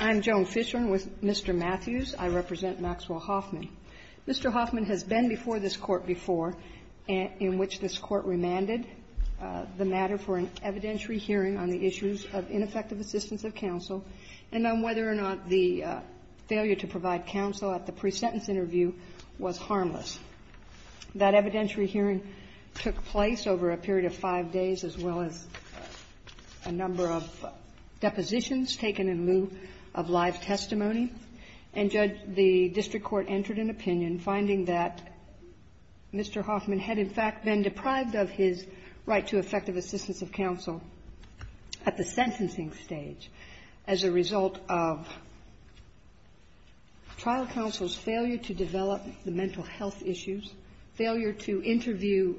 I'm Joan Fisher with Mr. Matthews. I represent Maxwell Hoffman. Mr. Hoffman has been before this court before, in which this court remanded the matter for an evidentiary hearing on the issues of ineffective assistance of counsel and on whether or not the failure to provide counsel at the pre-sentence interview was harmless. That evidentiary hearing took place over a period of five days as well as a number of depositions taken in lieu of live testimony. And judge, the district court entered an opinion finding that Mr. Hoffman had in fact been deprived of his right to effective assistance of counsel at the sentencing stage as a result of trial counsel's failure to develop the mental health issues, failure to interview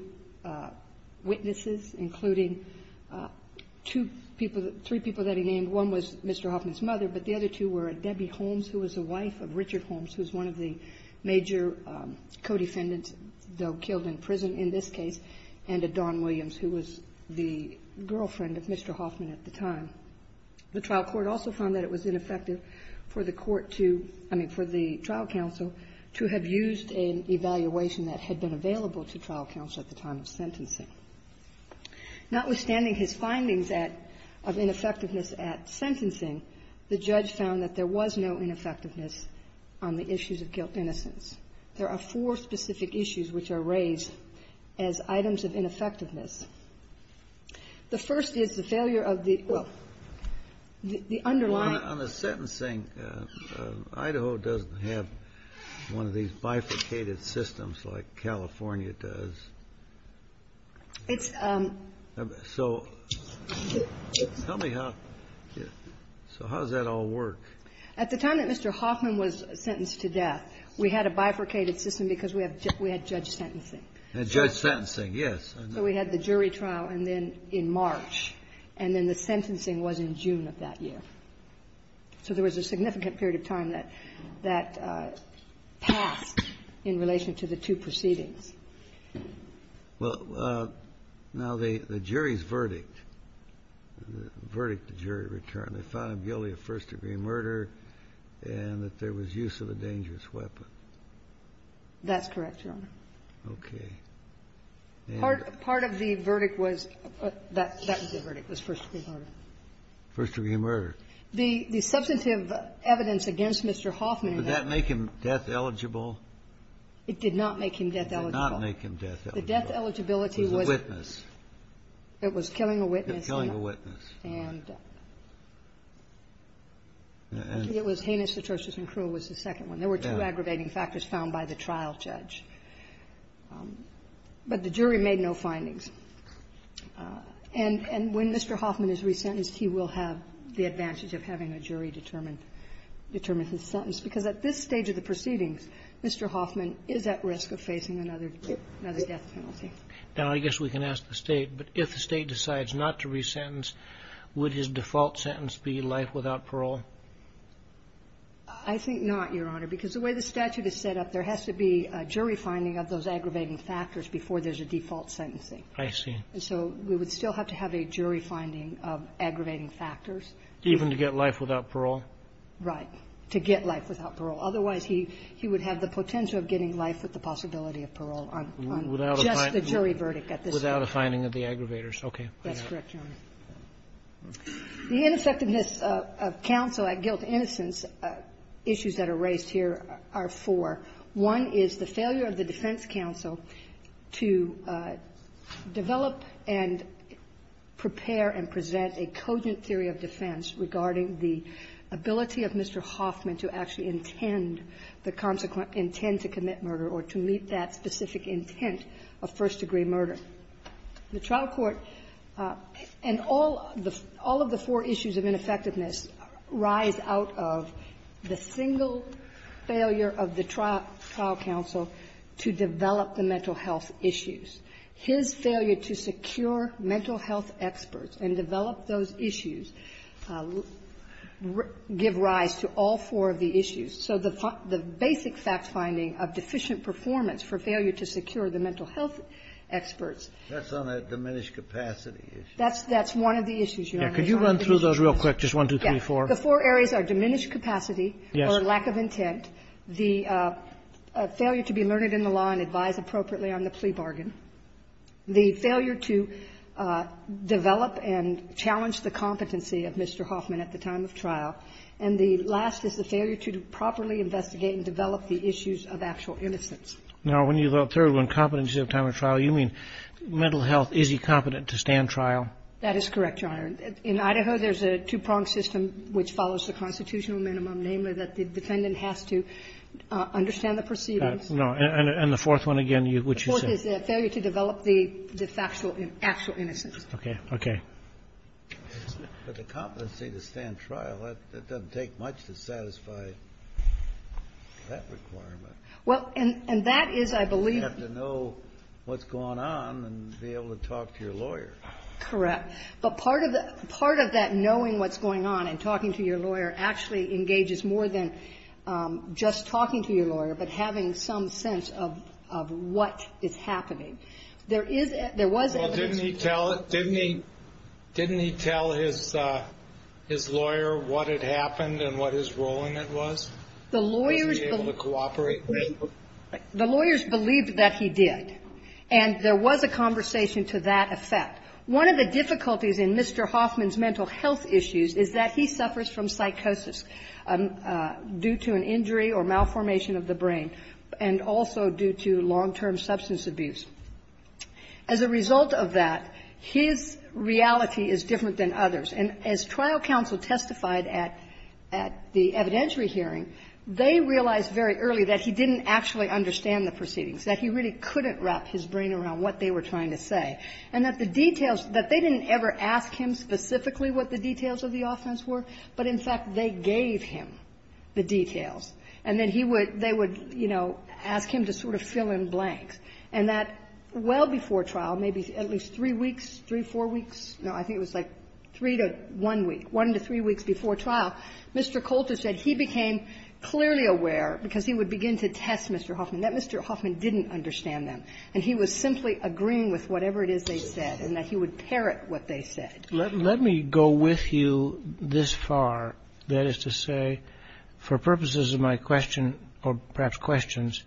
witnesses, including three people who had been involved in the trial. I know that he named one was Mr. Hoffman's mother, but the other two were Debbie Holmes, who was the wife of Richard Holmes, who was one of the major co-defendants, though killed in prison in this case, and Dawn Williams, who was the girlfriend of Mr. Hoffman at the time. The trial court also found that it was ineffective for the trial counsel to have used an evaluation that had been available to trial counsel at the time of sentencing. Notwithstanding his findings of ineffectiveness at sentencing, the judge found that there was no ineffectiveness on the issues of guilt and innocence. There are four specific issues which are raised as items of ineffectiveness. The first is the failure of the, well, the underlying... Idaho doesn't have one of these bifurcated systems like California does. So, tell me how, so how does that all work? At the time that Mr. Hoffman was sentenced to death, we had a bifurcated system because we had judge sentencing. Judge sentencing, yes. So we had the jury trial in March, and then the sentencing was in June of that year. So there was a significant period of time that passed in relation to the two proceedings. Well, now the jury's verdict, the verdict the jury returned, they found guilty of first degree murder and that there was use of a dangerous weapon. That's correct, Your Honor. Okay. Part of the verdict was, that was the verdict, was first degree murder. First degree murder. The substantive evidence against Mr. Hoffman... Did that make him death eligible? It did not make him death eligible. It did not make him death eligible. The death eligibility was... It was a witness. It was killing a witness. It was killing a witness. And it was heinous atrocious and cruel was the second one. There were two aggravating factors found by the trial judge. But the jury made no findings. And when Mr. Hoffman is re-sentenced, he will have the advantage of having a jury determine his sentence, because at this stage of the proceedings, Mr. Hoffman is at risk of facing another death penalty. And I guess we can ask the state, but if the state decides not to re-sentence, would his default sentence be life without parole? I think not, Your Honor, because the way the statute is set up, there has to be a jury finding of those aggravating factors before there's a default sentencing. I see. And so we would still have to have a jury finding of aggravating factors. Even to get life without parole? Right. To get life without parole. Otherwise, he would have the potential of getting life with the possibility of parole on just the jury verdict at this point. Without a finding of the aggravators. Okay. That's correct, Your Honor. The ineffectiveness of counsel at guilt and innocence, issues that are raised here, are four. One is the failure of the defense counsel to develop and prepare and present a cogent theory of defense regarding the ability of Mr. Hoffman to actually intend, the consequent intent to commit murder, or to meet that specific intent of first-degree murder. The trial court, and all of the four issues of ineffectiveness, rise out of the single failure of the trial counsel to develop the mental health issues. His failure to secure mental health experts and develop those issues give rise to all four of the issues. So the basic fact finding of deficient performance for failure to secure the mental health experts. That's on that diminished capacity issue. That's one of the issues, Your Honor. Can you run through those real quick? Just one, two, three, four. The four areas are diminished capacity or lack of intent, the failure to be learned in the law and advise appropriately on the plea bargain, the failure to develop and challenge the competency of Mr. Hoffman at the time of trial, and the last is the failure to properly investigate and develop the issues of actual innocence. Now, when you go through on competency at the time of trial, you mean mental health, is he competent to stand trial? That is correct, Your Honor. In Idaho, there's a two-pronged system which follows the constitutional minimum, namely that the defendant has to understand the proceedings. No, and the fourth one again, what you said. The fourth is the failure to develop the factual innocence. Okay, okay. But the competency to stand trial, that doesn't take much to satisfy that requirement. Well, and that is, I believe. You have to know what's going on and be able to talk to your lawyer. Correct. But part of that knowing what's going on and talking to your lawyer actually engages more than just talking to your lawyer but having some sense of what is happening. Well, didn't he tell his lawyer what had happened and what his role in it was? The lawyers believed that he did, and there was a conversation to that effect. One of the difficulties in Mr. Hoffman's mental health issues is that he suffers from psychosis due to an injury or malformation of the brain and also due to long-term substance abuse. As a result of that, his reality is different than others, and as trial counsel testified at the evidentiary hearing, they realized very early that he didn't actually understand the proceedings, that he really couldn't wrap his brain around what they were trying to say, and that the details, that they didn't ever ask him specifically what the details of the offense were, but in fact they gave him the details. And then they would ask him to sort of fill in blanks. And that well before trial, maybe at least three weeks, three, four weeks? No, I think it was like three to one week, one to three weeks before trial, Mr. Coulter said he became clearly aware, because he would begin to test Mr. Hoffman, that Mr. Hoffman didn't understand them, and he was simply agreeing with whatever it is they said and that he would parrot what they said. Let me go with you this far. That is to say, for purposes of my question, or perhaps questions,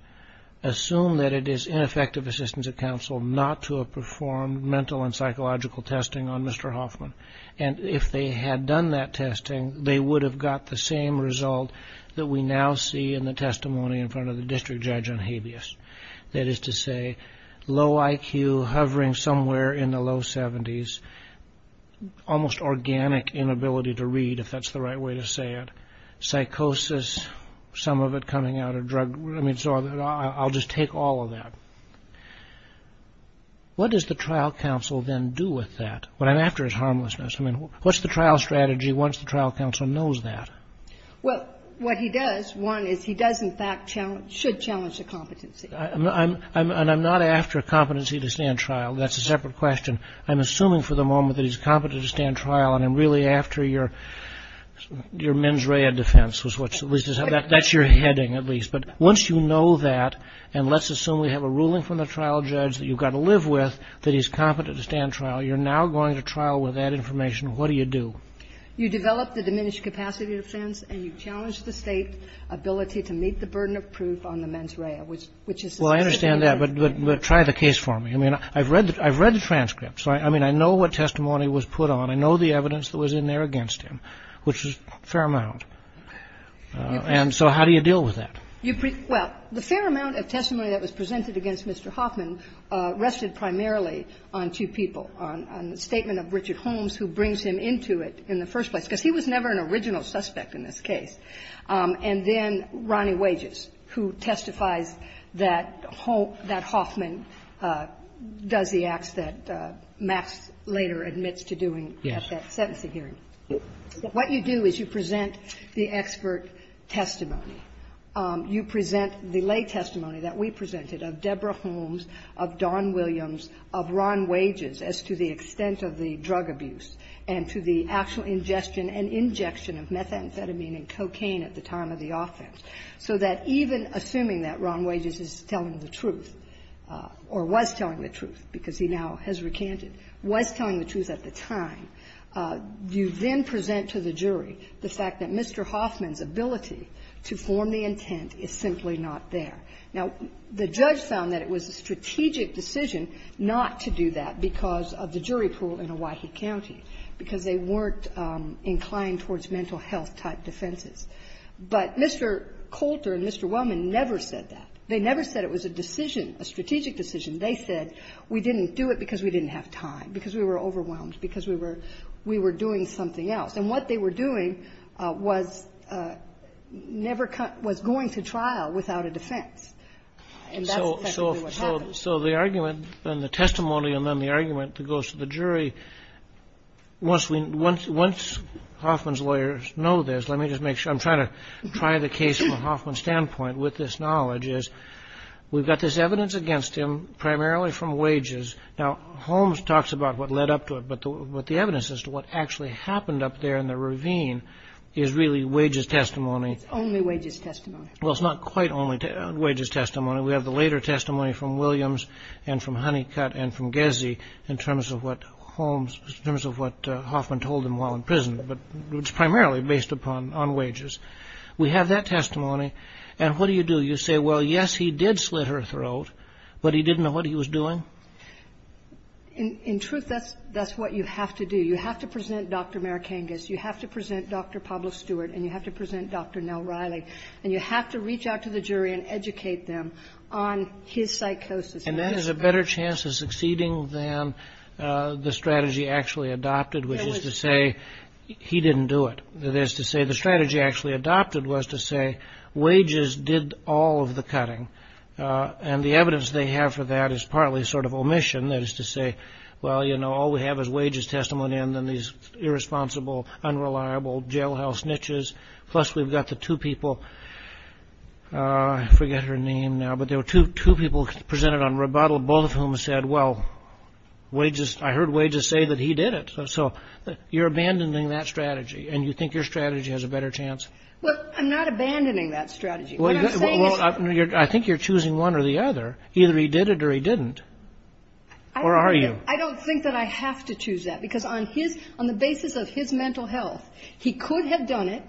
assume that it is ineffective assistance of counsel not to have performed mental and psychological testing on Mr. Hoffman. And if they had done that testing, they would have got the same result that we now see in the testimony in front of the district judge on habeas. That is to say, low IQ, hovering somewhere in the low 70s, almost organic inability to read, if that's the right way to say it, psychosis, some of it coming out of drug, I'll just take all of that. What does the trial counsel then do with that? What I'm after is harmlessness. What's the trial strategy once the trial counsel knows that? Well, what he does, one, is he does in fact challenge, should challenge the competency. And I'm not after competency to stand trial. That's a separate question. I'm assuming for the moment that he's competent to stand trial, and I'm really after your mens rea defense is what's at least, that's your heading at least. But once you know that, and let's assume we have a ruling from the trial judge that you've got to live with that he's competent to stand trial, you're now going to trial with that information. What do you do? You develop the diminished capacity defense, and you challenge the state's ability to meet the burden of proof on the mens rea. Well, I understand that, but try the case for me. I've read the transcripts. I mean, I know what testimony was put on. I know the evidence that was in there against him, which is a fair amount. And so how do you deal with that? Well, the fair amount of testimony that was presented against Mr. Hoffman rested primarily on two people, on the statement of Richard Holmes, who brings him into it in the first place, because he was never an original suspect in this case, and then Ronnie Wages, who testifies that Hoffman does the acts that Max later admits to doing at that sentencing hearing. What you do is you present the expert testimony. You present the lay testimony that we presented of Deborah Holmes, of Don Williams, of Ron Wages, as to the extent of the drug abuse, and to the actual ingestion and injection of methamphetamine and cocaine at the time of the offense, so that even assuming that Ron Wages is telling the truth, or was telling the truth because he now has recanted, was telling the truth at the time, you then present to the jury the fact that Mr. Hoffman's ability to form the intent is simply not there. Now, the judge found that it was a strategic decision not to do that because of the jury pool in Owyhee County, because they weren't inclined towards mental health-type defenses. But Mr. Coulter and Mr. Wellman never said that. They never said it was a decision, a strategic decision. They said we didn't do it because we didn't have time, because we were overwhelmed, because we were doing something else. And what they were doing was going to trial without a defense, and that's essentially what happened. So the argument, and the testimony, and then the argument that goes to the jury, once Hoffman's lawyers know this, let me just make sure, I'm trying to try the case from a Hoffman standpoint with this knowledge, is we've got this evidence against him primarily from wages. Now, Holmes talks about what led up to it, but the evidence as to what actually happened up there in the ravine is really wages testimony. Only wages testimony. Well, it's not quite only wages testimony. We have the later testimony from Williams and from Honeycutt and from Gezzi in terms of what Hoffman told him while in prison, but it's primarily based upon wages. We have that testimony, and what do you do? Do you say, well, yes, he did slit her throat, but he didn't know what he was doing? In truth, that's what you have to do. You have to present Dr. Marikangas, you have to present Dr. Pablo Stewart, and you have to present Dr. Nell Riley, and you have to reach out to the jury and educate them on his psychosis. And that is a better chance of succeeding than the strategy actually adopted, which is to say he didn't do it. That is to say the strategy actually adopted was to say wages did all of the cutting, and the evidence they have for that is partly sort of omission, that is to say, well, you know, all we have is wages testimony and then these irresponsible, unreliable jailhouse niches. Plus, we've got the two people, I forget her name now, but there were two people presented on rebuttal, both of whom said, well, I heard wages say that he did it. So you're abandoning that strategy, and you think your strategy has a better chance? Well, I'm not abandoning that strategy. Well, I think you're choosing one or the other. Either he did it or he didn't. Or are you? I don't think that I have to choose that, because on the basis of his mental health, he could have done it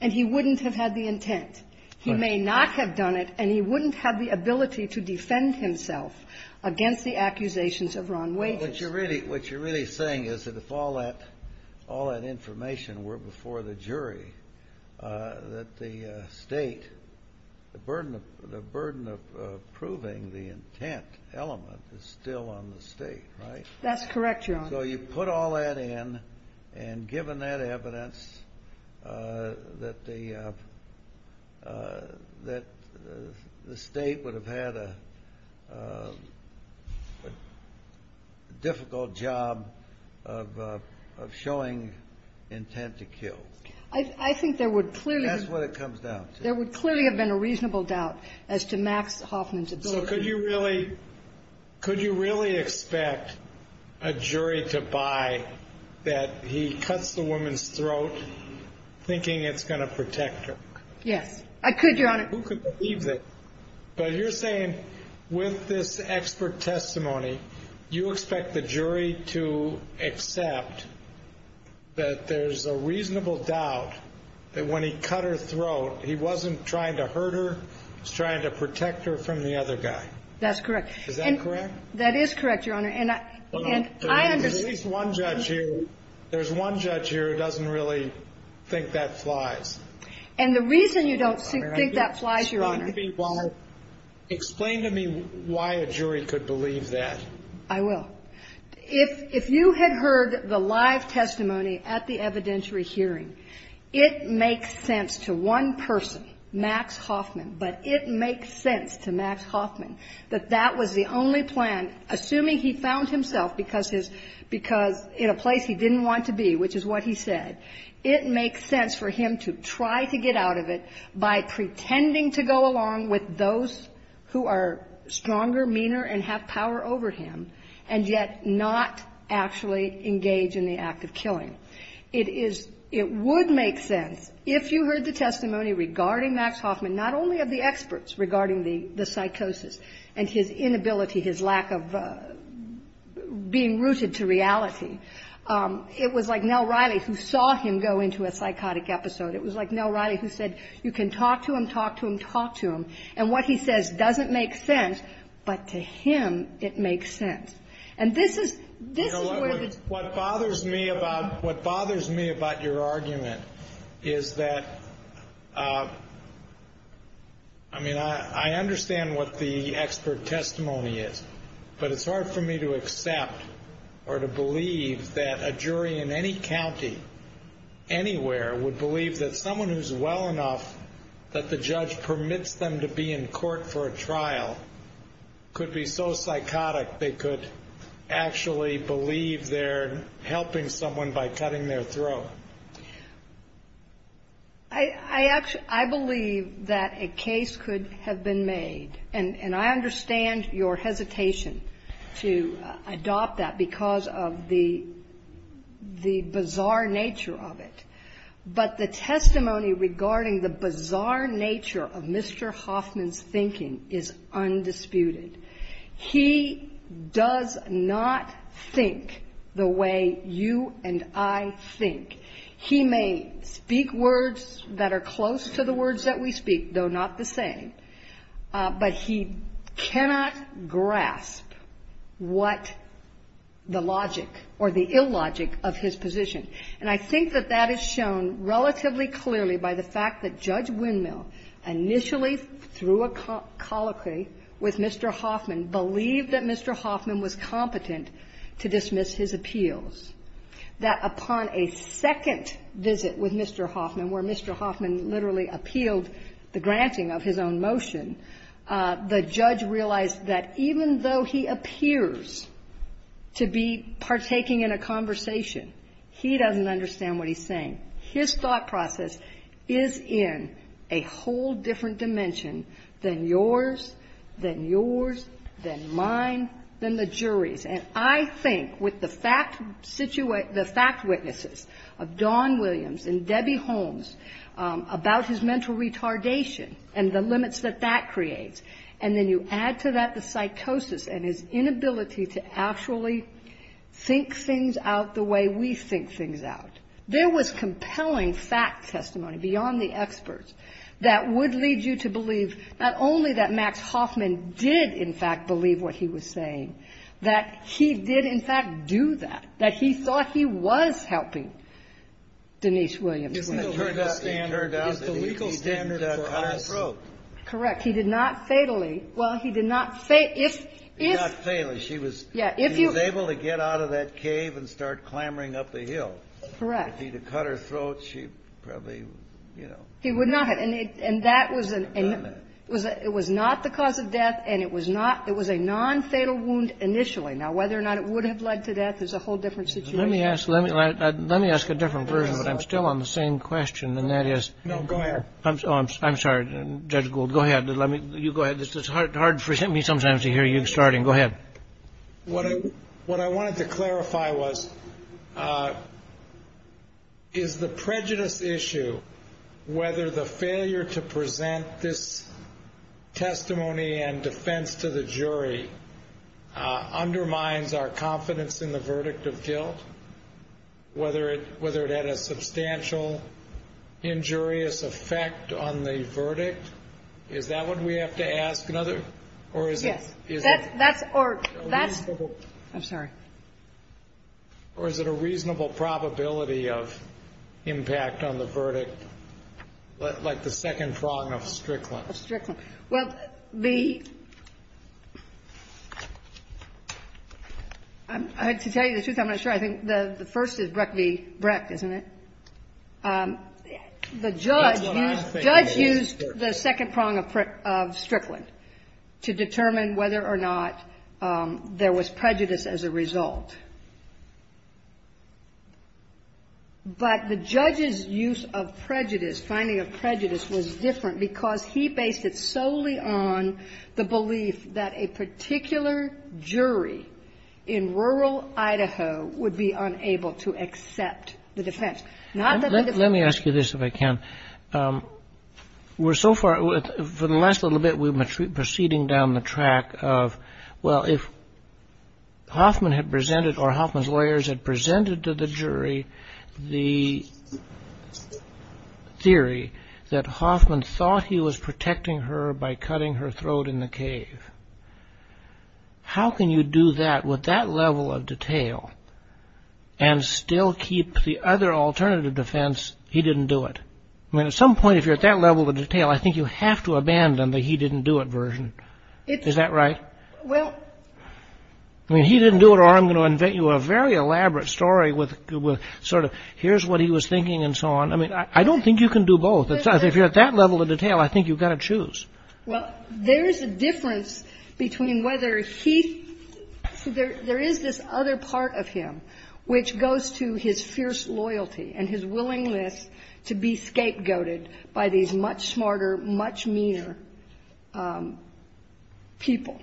and he wouldn't have had the intent. He may not have done it, and he wouldn't have the ability to defend himself against the accusations of wrong wages. What you're really saying is that if all that information were before the jury, that the burden of proving the intent element is still on the state, right? That's correct, Your Honor. So you put all that in, and given that evidence, that the state would have had a difficult job of showing intent to kill. I think there would clearly have been a reasonable doubt as to Max Hoffman's ability. Well, look, could you really expect a jury to buy that he cuts the woman's throat thinking it's going to protect her? Yes, I could, Your Honor. Who could believe it? But you're saying with this expert testimony, you expect the jury to accept that there's a reasonable doubt that when he cut her throat, he wasn't trying to hurt her, he was trying to protect her from the other guy. That's correct. Is that correct? That is correct, Your Honor. And I understand. There's one judge here who doesn't really think that flies. And the reason you don't think that flies, Your Honor. Explain to me why a jury could believe that. I will. If you had heard the live testimony at the evidentiary hearing, it makes sense to one person, Max Hoffman, but it makes sense to Max Hoffman that that was the only plan, assuming he found himself in a place he didn't want to be, which is what he said. It makes sense for him to try to get out of it by pretending to go along with those who are stronger, meaner, and have power over him, and yet not actually engage in the act of killing. It would make sense, if you heard the testimony regarding Max Hoffman, not only of the experts regarding the psychosis and his inability, his lack of being rooted to reality. It was like Nell Riley, who saw him go into a psychotic episode. It was like Nell Riley, who said, you can talk to him, talk to him, talk to him, and what he says doesn't make sense, but to him, it makes sense. And this is where the... What bothers me about your argument is that, I mean, I understand what the expert testimony is, but it's hard for me to accept or to believe that a jury in any county, anywhere, would believe that someone who's well enough that the judge permits them to be in court for a trial could be so psychotic they could actually believe they're helping someone by cutting their throat. I believe that a case could have been made, and I understand your hesitation to adopt that because of the bizarre nature of it, but the testimony regarding the bizarre nature of Mr. Hoffman's thinking is undisputed. He does not think the way you and I think. He may speak words that are close to the words that we speak, though not the same, but he cannot grasp what the logic or the illogic of his position. And I think that that is shown relatively clearly by the fact that Judge Windmill initially, through a colloquy with Mr. Hoffman, believed that Mr. Hoffman was competent to dismiss his appeals. That upon a second visit with Mr. Hoffman, where Mr. Hoffman literally appealed the granting of his own motion, the judge realized that even though he appears to be partaking in a conversation, he doesn't understand what he's saying. His thought process is in a whole different dimension than yours, than yours, than mine, than the jury's. And I think with the fact witnesses of Don Williams and Debbie Holmes about his mental retardation and the limits that that creates, and then you add to that the psychosis and his inability to actually think things out the way we think things out. There was compelling fact testimony beyond the experts that would lead you to believe not only that Max Hoffman did in fact believe what he was saying, that he did in fact do that, that he thought he was helping Denise Williams. It turned out that he didn't cut her throat. Correct. He did not fatally. Well, he did not fatally. She was able to get out of that cave and start clambering up the hill. Correct. If he had cut her throat, she probably, you know. He would not have. And it was not the cause of death, and it was a nonfatal wound initially. Now, whether or not it would have led to death is a whole different situation. Let me ask a different version, but I'm still on the same question, and that is. No, go ahead. I'm sorry, Judge Gould. Go ahead. You go ahead. It's hard for me sometimes to hear you starting. Go ahead. What I wanted to clarify was, is the prejudice issue, whether the failure to present this testimony and defense to the jury, undermines our confidence in the verdict of guilt, whether it had a substantial injurious effect on the verdict? Is that what we have to ask? Yes. I'm sorry. Or is it a reasonable probability of impact on the verdict, like the second prong of Strickland? Of Strickland. Well, to tell you the truth, I'm not sure. I think the first is Brecht, isn't it? The judge used the second prong of Strickland to determine whether or not there was prejudice as a result. But the judge's use of prejudice, finding of prejudice, was different because he based it solely on the belief that a particular jury in rural Idaho would be unable to accept the defense. Let me ask you this, if I can. We're so far, for the last little bit, we're proceeding down the track of, well, if Hoffman had presented or Hoffman's lawyers had presented to the jury the theory that Hoffman thought he was protecting her by cutting her throat in the cave, how can you do that with that level of detail and still keep the other alternative defense, he didn't do it? I mean, at some point, if you're at that level of detail, I think you have to abandon the he didn't do it version. Is that right? I mean, he didn't do it or I'm going to invent you a very elaborate story with sort of, here's what he was thinking and so on. I mean, I don't think you can do both. If you're at that level of detail, I think you've got to choose. Well, there is a difference between whether he, there is this other part of him, which goes to his fierce loyalty and his willingness to be scapegoated by these much smarter, much meaner people.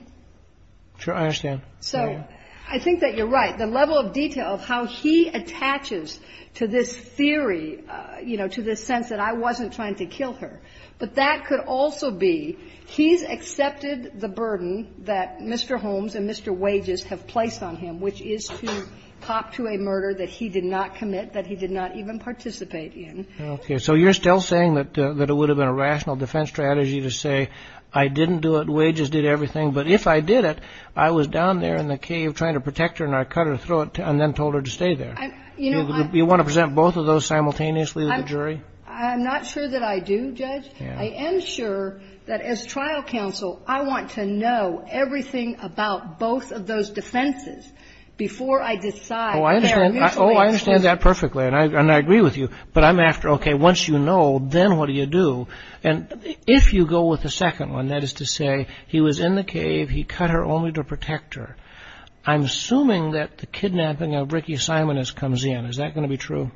I understand. So, I think that you're right. The level of detail of how he attaches to this theory, you know, to this sense that I wasn't trying to kill her. But that could also be he's accepted the burden that Mr. Holmes and Mr. Wages have placed on him, which is to talk to a murder that he did not commit, that he did not even participate in. Okay. So, you're still saying that it would have been a rational defense strategy to say I didn't do it, Wages did everything, but if I did it, I was down there in the cave trying to protect her and I cut her throat and then told her to stay there. You want to present both of those simultaneously to the jury? I'm not sure that I do, Judge. I am sure that as trial counsel, I want to know everything about both of those defenses before I decide. Oh, I understand that perfectly, and I agree with you. But I'm after, okay, once you know, then what do you do? And if you go with the second one, that is to say he was in the cave, he cut her only to protect her, I'm assuming that the kidnapping of Ricky Simon comes in. Is that going to be true?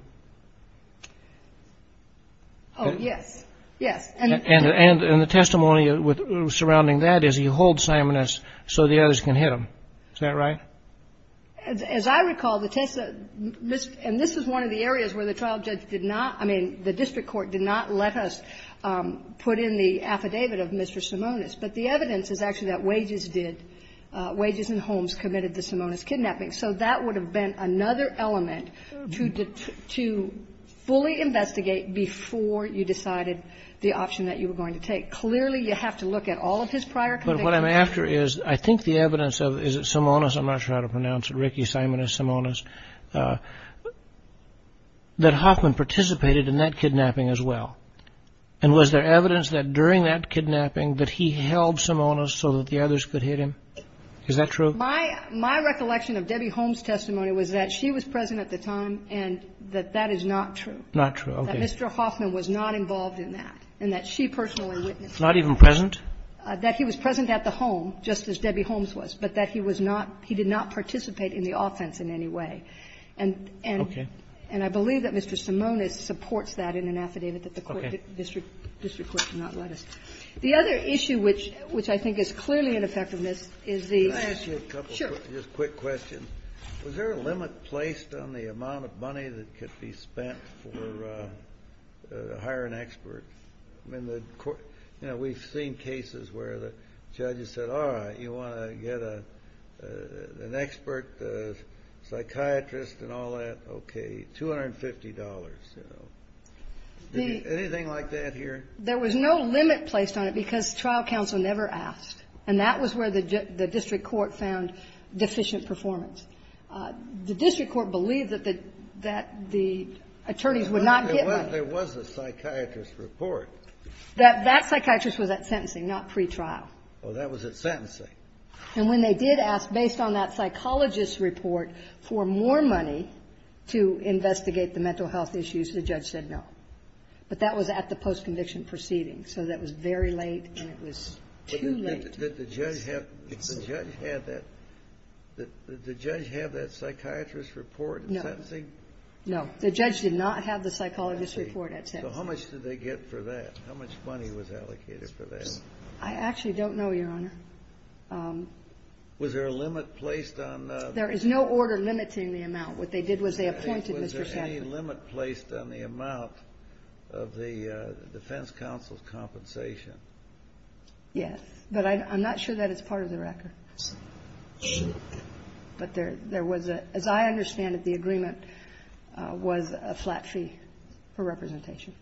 Oh, yes, yes. And the testimony surrounding that is he holds Simoness so the others can hit him. Is that right? As I recall, and this is one of the areas where the trial judge did not, I mean, the district court did not let us put in the affidavit of Mr. Simoness, but the evidence is actually that Wages did. Wages and Holmes committed the Simoness kidnapping. So that would have been another element to fully investigate before you decided the option that you were going to take. Clearly, you have to look at all of his prior convictions. But what I'm after is I think the evidence of, is it Simoness, I'm not sure how to pronounce it, Ricky Simoness, Simoness, that Hoffman participated in that kidnapping as well. And was there evidence that during that kidnapping that he held Simoness so that the others could hit him? Is that true? My recollection of Debbie Holmes' testimony was that she was present at the time and that that is not true. Not true, okay. That Mr. Hoffman was not involved in that and that she personally witnessed it. Not even present? That he was present at the home, just as Debbie Holmes was, but that he was not, he did not participate in the offense in any way. Okay. And I believe that Mr. Simoness supports that in an affidavit that the district court did not let us. The other issue, which I think is clearly an effectiveness, is the attitude. Can I ask you a couple quick questions? Sure. Was there a limit placed on the amount of money that could be spent to hire an expert? We've seen cases where the judges said, all right, you want to get an expert, a psychiatrist and all that, okay, $250. Anything like that here? There was no limit placed on it because trial counsel never asked and that was where the district court found deficient performance. The district court believed that the attorneys would not get much. There was a psychiatrist report. That psychiatrist was at sentencing, not pretrial. Oh, that was at sentencing. And when they did ask, based on that psychologist's report, for more money to investigate the mental health issues, the judge said no. But that was at the post-conviction proceeding. So that was very late and it was too late. Did the judge have that psychiatrist report at sentencing? No. The judge did not have the psychologist's report at sentencing. So how much did they get for that? How much money was allocated for that? I actually don't know, Your Honor. Was there a limit placed on that? There is no order limiting the amount. What they did was they appointed Mr. Simoness. Was there any limit placed on the amount of the defense counsel's compensation? Yes. But I'm not sure that it's part of the record. But there was, as I understand it, the agreement was a flat fee for representation.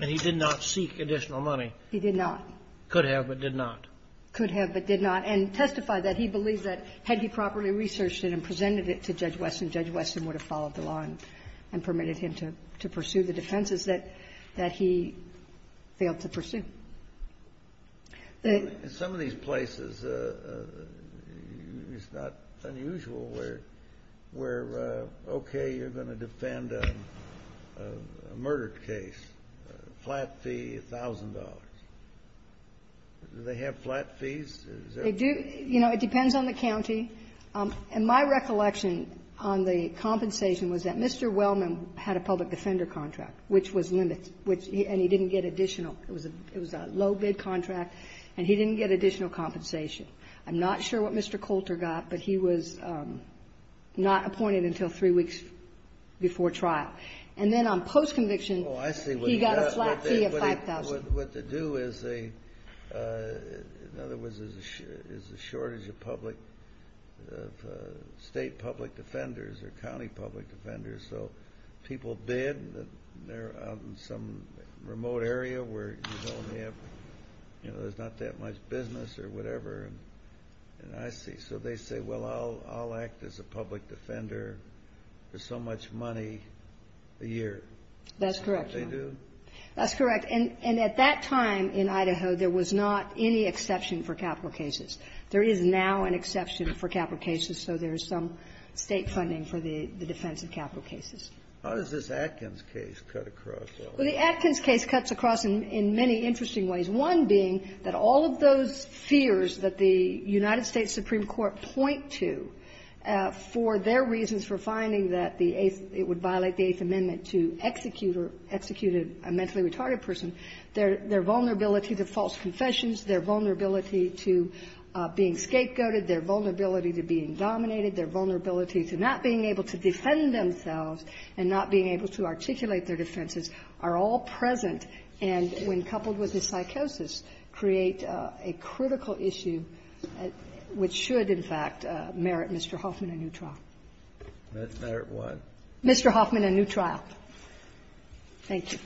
And he did not seek additional money? He did not. Could have but did not? Could have but did not. And testified that he believed that had he properly researched it and presented it to Judge Wesson, Judge Wesson would have followed along and permitted him to pursue the defenses that he failed to pursue. In some of these places, it's not unusual where, okay, you're going to defend a murder case. Flat fee, $1,000. Did they have flat fees? You know, it depends on the county. And my recollection on the compensation was that Mr. Wellman had a public defender contract, which was limited, and he didn't get additional. It was a low-bid contract, and he didn't get additional compensation. I'm not sure what Mr. Coulter got, but he was not appointed until three weeks before trial. And then on post-conviction, he got a flat fee of $5,000. What they do is a shortage of state public defenders or county public defenders. So people bid, and they're out in some remote area where there's not that much business or whatever. So they say, well, I'll act as a public defender for so much money a year. That's correct. They do? That's correct. And at that time in Idaho, there was not any exception for capital cases. There is now an exception for capital cases, so there's some state funding for the defense of capital cases. How does this Atkins case cut across? Well, the Atkins case cuts across in many interesting ways, one being that all of those fears that the United States Supreme Court point to for their reasons for finding that it would violate the Eighth Amendment to execute a mentally retarded person, their vulnerability to false confessions, their vulnerability to being scapegoated, their vulnerability to being dominated, their vulnerability to not being able to defend themselves and not being able to articulate their defenses are all present. And when coupled with the psychosis, create a critical issue which should, in fact, merit Mr. Hoffman a new trial. That's merit one. Mr. Hoffman a new trial. Thank you.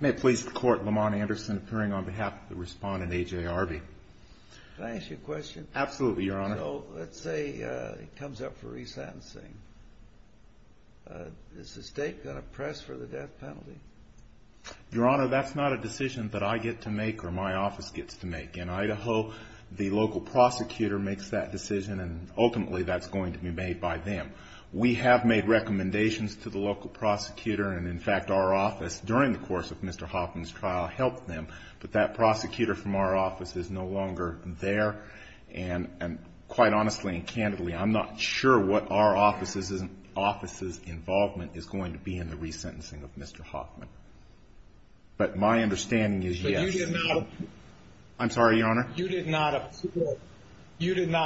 May I please report Lamont Anderson appearing on behalf of the respondent, A.J. Harvey. May I ask you a question? Absolutely, Your Honor. So let's say it comes up for resentencing. Does the state press for the death penalty? Your Honor, that's not a decision that I get to make or my office gets to make. The local prosecutor makes that decision and ultimately that's going to be made by them. We have made recommendations to the local prosecutor and, in fact, our office during the course of Mr. Hoffman's trial helped them. But that prosecutor from our office is no longer there. And quite honestly and candidly, I'm not sure what our office's involvement is going to be in the resentencing of Mr. Hoffman. But my understanding is yes. I'm sorry, Your Honor. You did not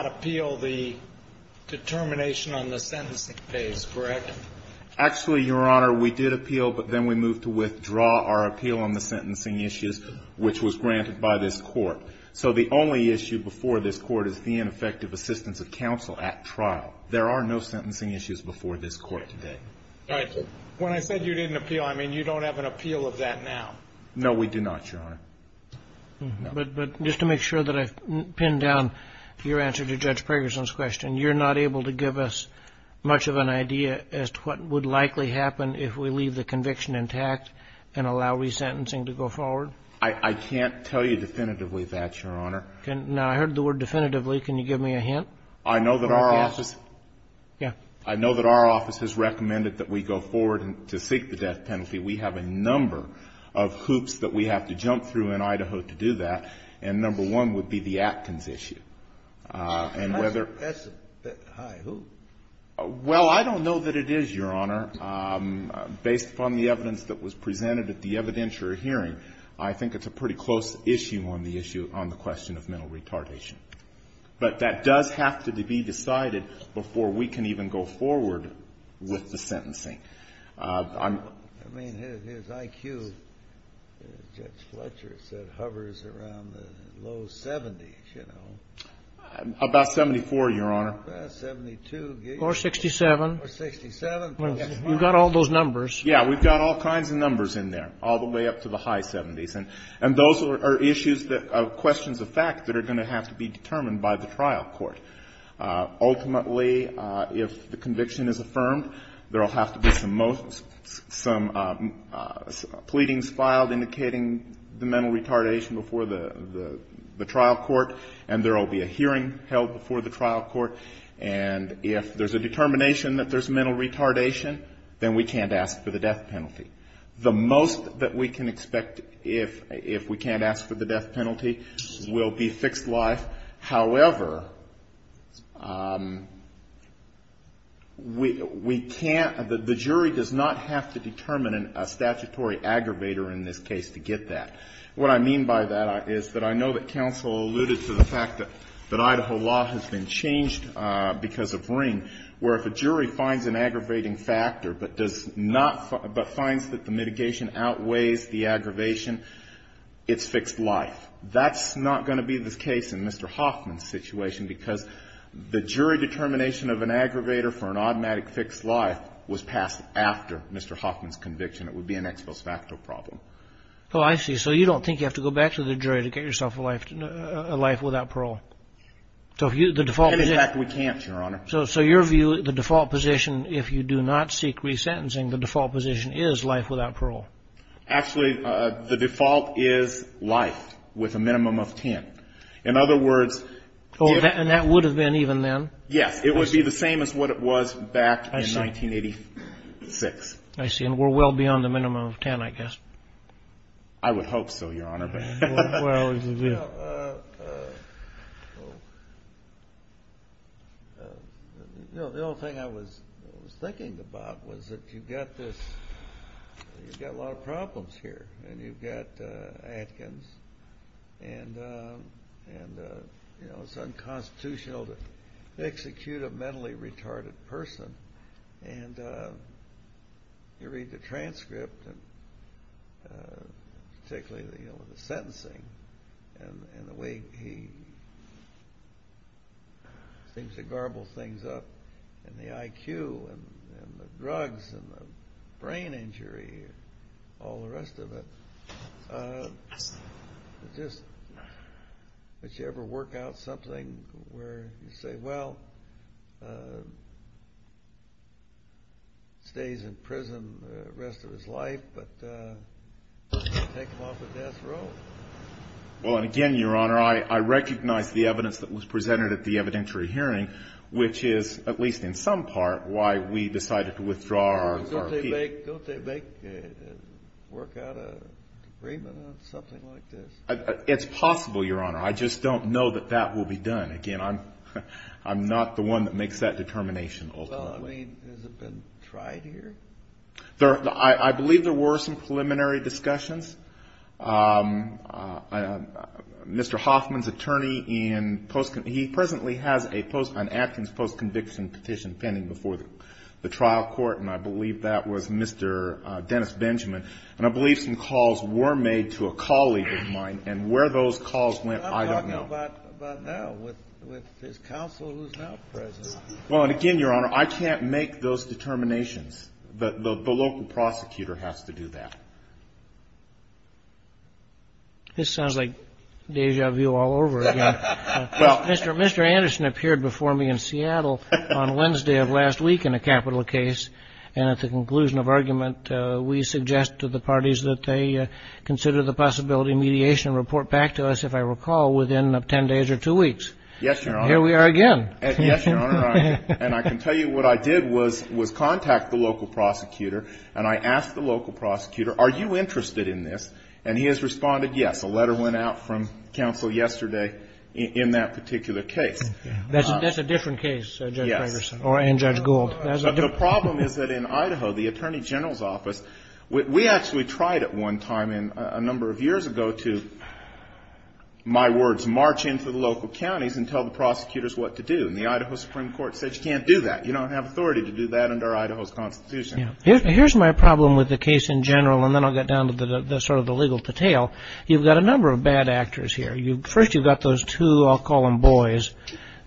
appeal the determination on the sentencing case, correct? Actually, Your Honor, we did appeal, but then we moved to withdraw our appeal on the sentencing issues, which was granted by this court. So the only issue before this court is the ineffective assistance of counsel at trial. There are no sentencing issues before this court today. When I said you didn't appeal, I mean you don't have an appeal of that now. No, we do not, Your Honor. But just to make sure that I've pinned down your answer to Judge Pergerson's question, you're not able to give us much of an idea as to what would likely happen if we leave the conviction intact and allow resentencing to go forward? I can't tell you definitively that, Your Honor. Now, I heard the word definitively. Can you give me a hint? I know that our office has recommended that we go forward to seek the death penalty. We have a number of hoops that we have to jump through in Idaho to do that. And number one would be the Acton's issue. That's impressive. Hi, who? Well, I don't know that it is, Your Honor. Based on the evidence that was presented at the evidentiary hearing, I think it's a pretty close issue on the issue on the question of mental retardation. But that does have to be decided before we can even go forward with the sentencing. I mean, his IQ, Judge Fletcher said, hovers around the low 70s, you know. About 74, Your Honor. 72. Or 67. Or 67. We've got all those numbers. Yeah, we've got all kinds of numbers in there, all the way up to the high 70s. And those are issues that are questions of fact that are going to have to be determined by the trial court. Ultimately, if the conviction is affirmed, there will have to be some pleadings filed indicating the mental retardation before the trial court. And there will be a hearing held before the trial court. And if there's a determination that there's mental retardation, then we can't ask for the death penalty. The most that we can expect if we can't ask for the death penalty will be fixed life. However, we can't, the jury does not have to determine a statutory aggravator in this case to get that. What I mean by that is that I know that counsel alluded to the fact that Idaho law has been changed because of Green, where if a jury finds an aggravating factor but does not, but finds that the mitigation outweighs the aggravation, it's fixed life. That's not going to be the case in Mr. Hoffman's situation because the jury determination of an aggravator for an automatic fixed life was passed after Mr. Hoffman's conviction. It would be an ex post facto problem. Well, I see. So you don't think you have to go back to the jury to get yourself a life without parole? In fact, we can't, Your Honor. So your view, the default position, if you do not seek resentencing, the default position is life without parole? Actually, the default is life with a minimum of 10. In other words, if... Oh, and that would have been even then? Yeah, it would be the same as what it was back in 1986. I see. And we're well beyond the minimum of 10, I guess. I would hope so, Your Honor. The only thing I was thinking about was that you've got a lot of problems here, and you've got Atkins, and it's unconstitutional to execute a mentally retarded person, and you read the transcript, particularly the sentencing, and the way he seems to garble things up, and the IQ, and the drugs, and the brain injury, and all the rest of it. Just, did you ever work out something where you say, well, he stays in prison the rest of his life, but he takes off in death row? Well, and again, Your Honor, I recognize the evidence that was presented at the evidentiary hearing, which is, at least in some part, why we decided to withdraw our appeal. Don't they make work out an agreement on something like this? It's possible, Your Honor. I just don't know that that will be done. Again, I'm not the one that makes that determination all the time. Well, I mean, has it been tried here? I believe there were some preliminary discussions. Mr. Hoffman's attorney, he presently has an Atkins post-conviction petition pending before the trial court, and I believe that was Mr. Dennis Benjamin, and I believe some calls were made to a colleague of mine, and where those calls went, I don't know. I'm talking about now, with his counsel who's not present. Well, and again, Your Honor, I can't make those determinations. The local prosecutor has to do that. This sounds like deja vu all over again. Mr. Anderson appeared before me in Seattle on Wednesday of last week in a capital case, and at the conclusion of argument, we suggest to the parties that they consider the possibility of mediation and report back to us, if I recall, within 10 days or two weeks. Yes, Your Honor. Here we are again. Yes, Your Honor, and I can tell you what I did was contact the local prosecutor, and I asked the local prosecutor, are you interested in this, and he has responded yes. A letter went out from counsel yesterday in that particular case. That's a different case, Judge Ferguson, and Judge Gould. The problem is that in Idaho, the Attorney General's Office, we actually tried at one time a number of years ago to, my words, march into the local counties and tell the prosecutors what to do, and the Idaho Supreme Court said you can't do that. You don't have authority to do that under Idaho's Constitution. Here's my problem with the case in general, and then I'll get down to sort of the legal detail. You've got a number of bad actors here. First, you've got those two, I'll call them boys,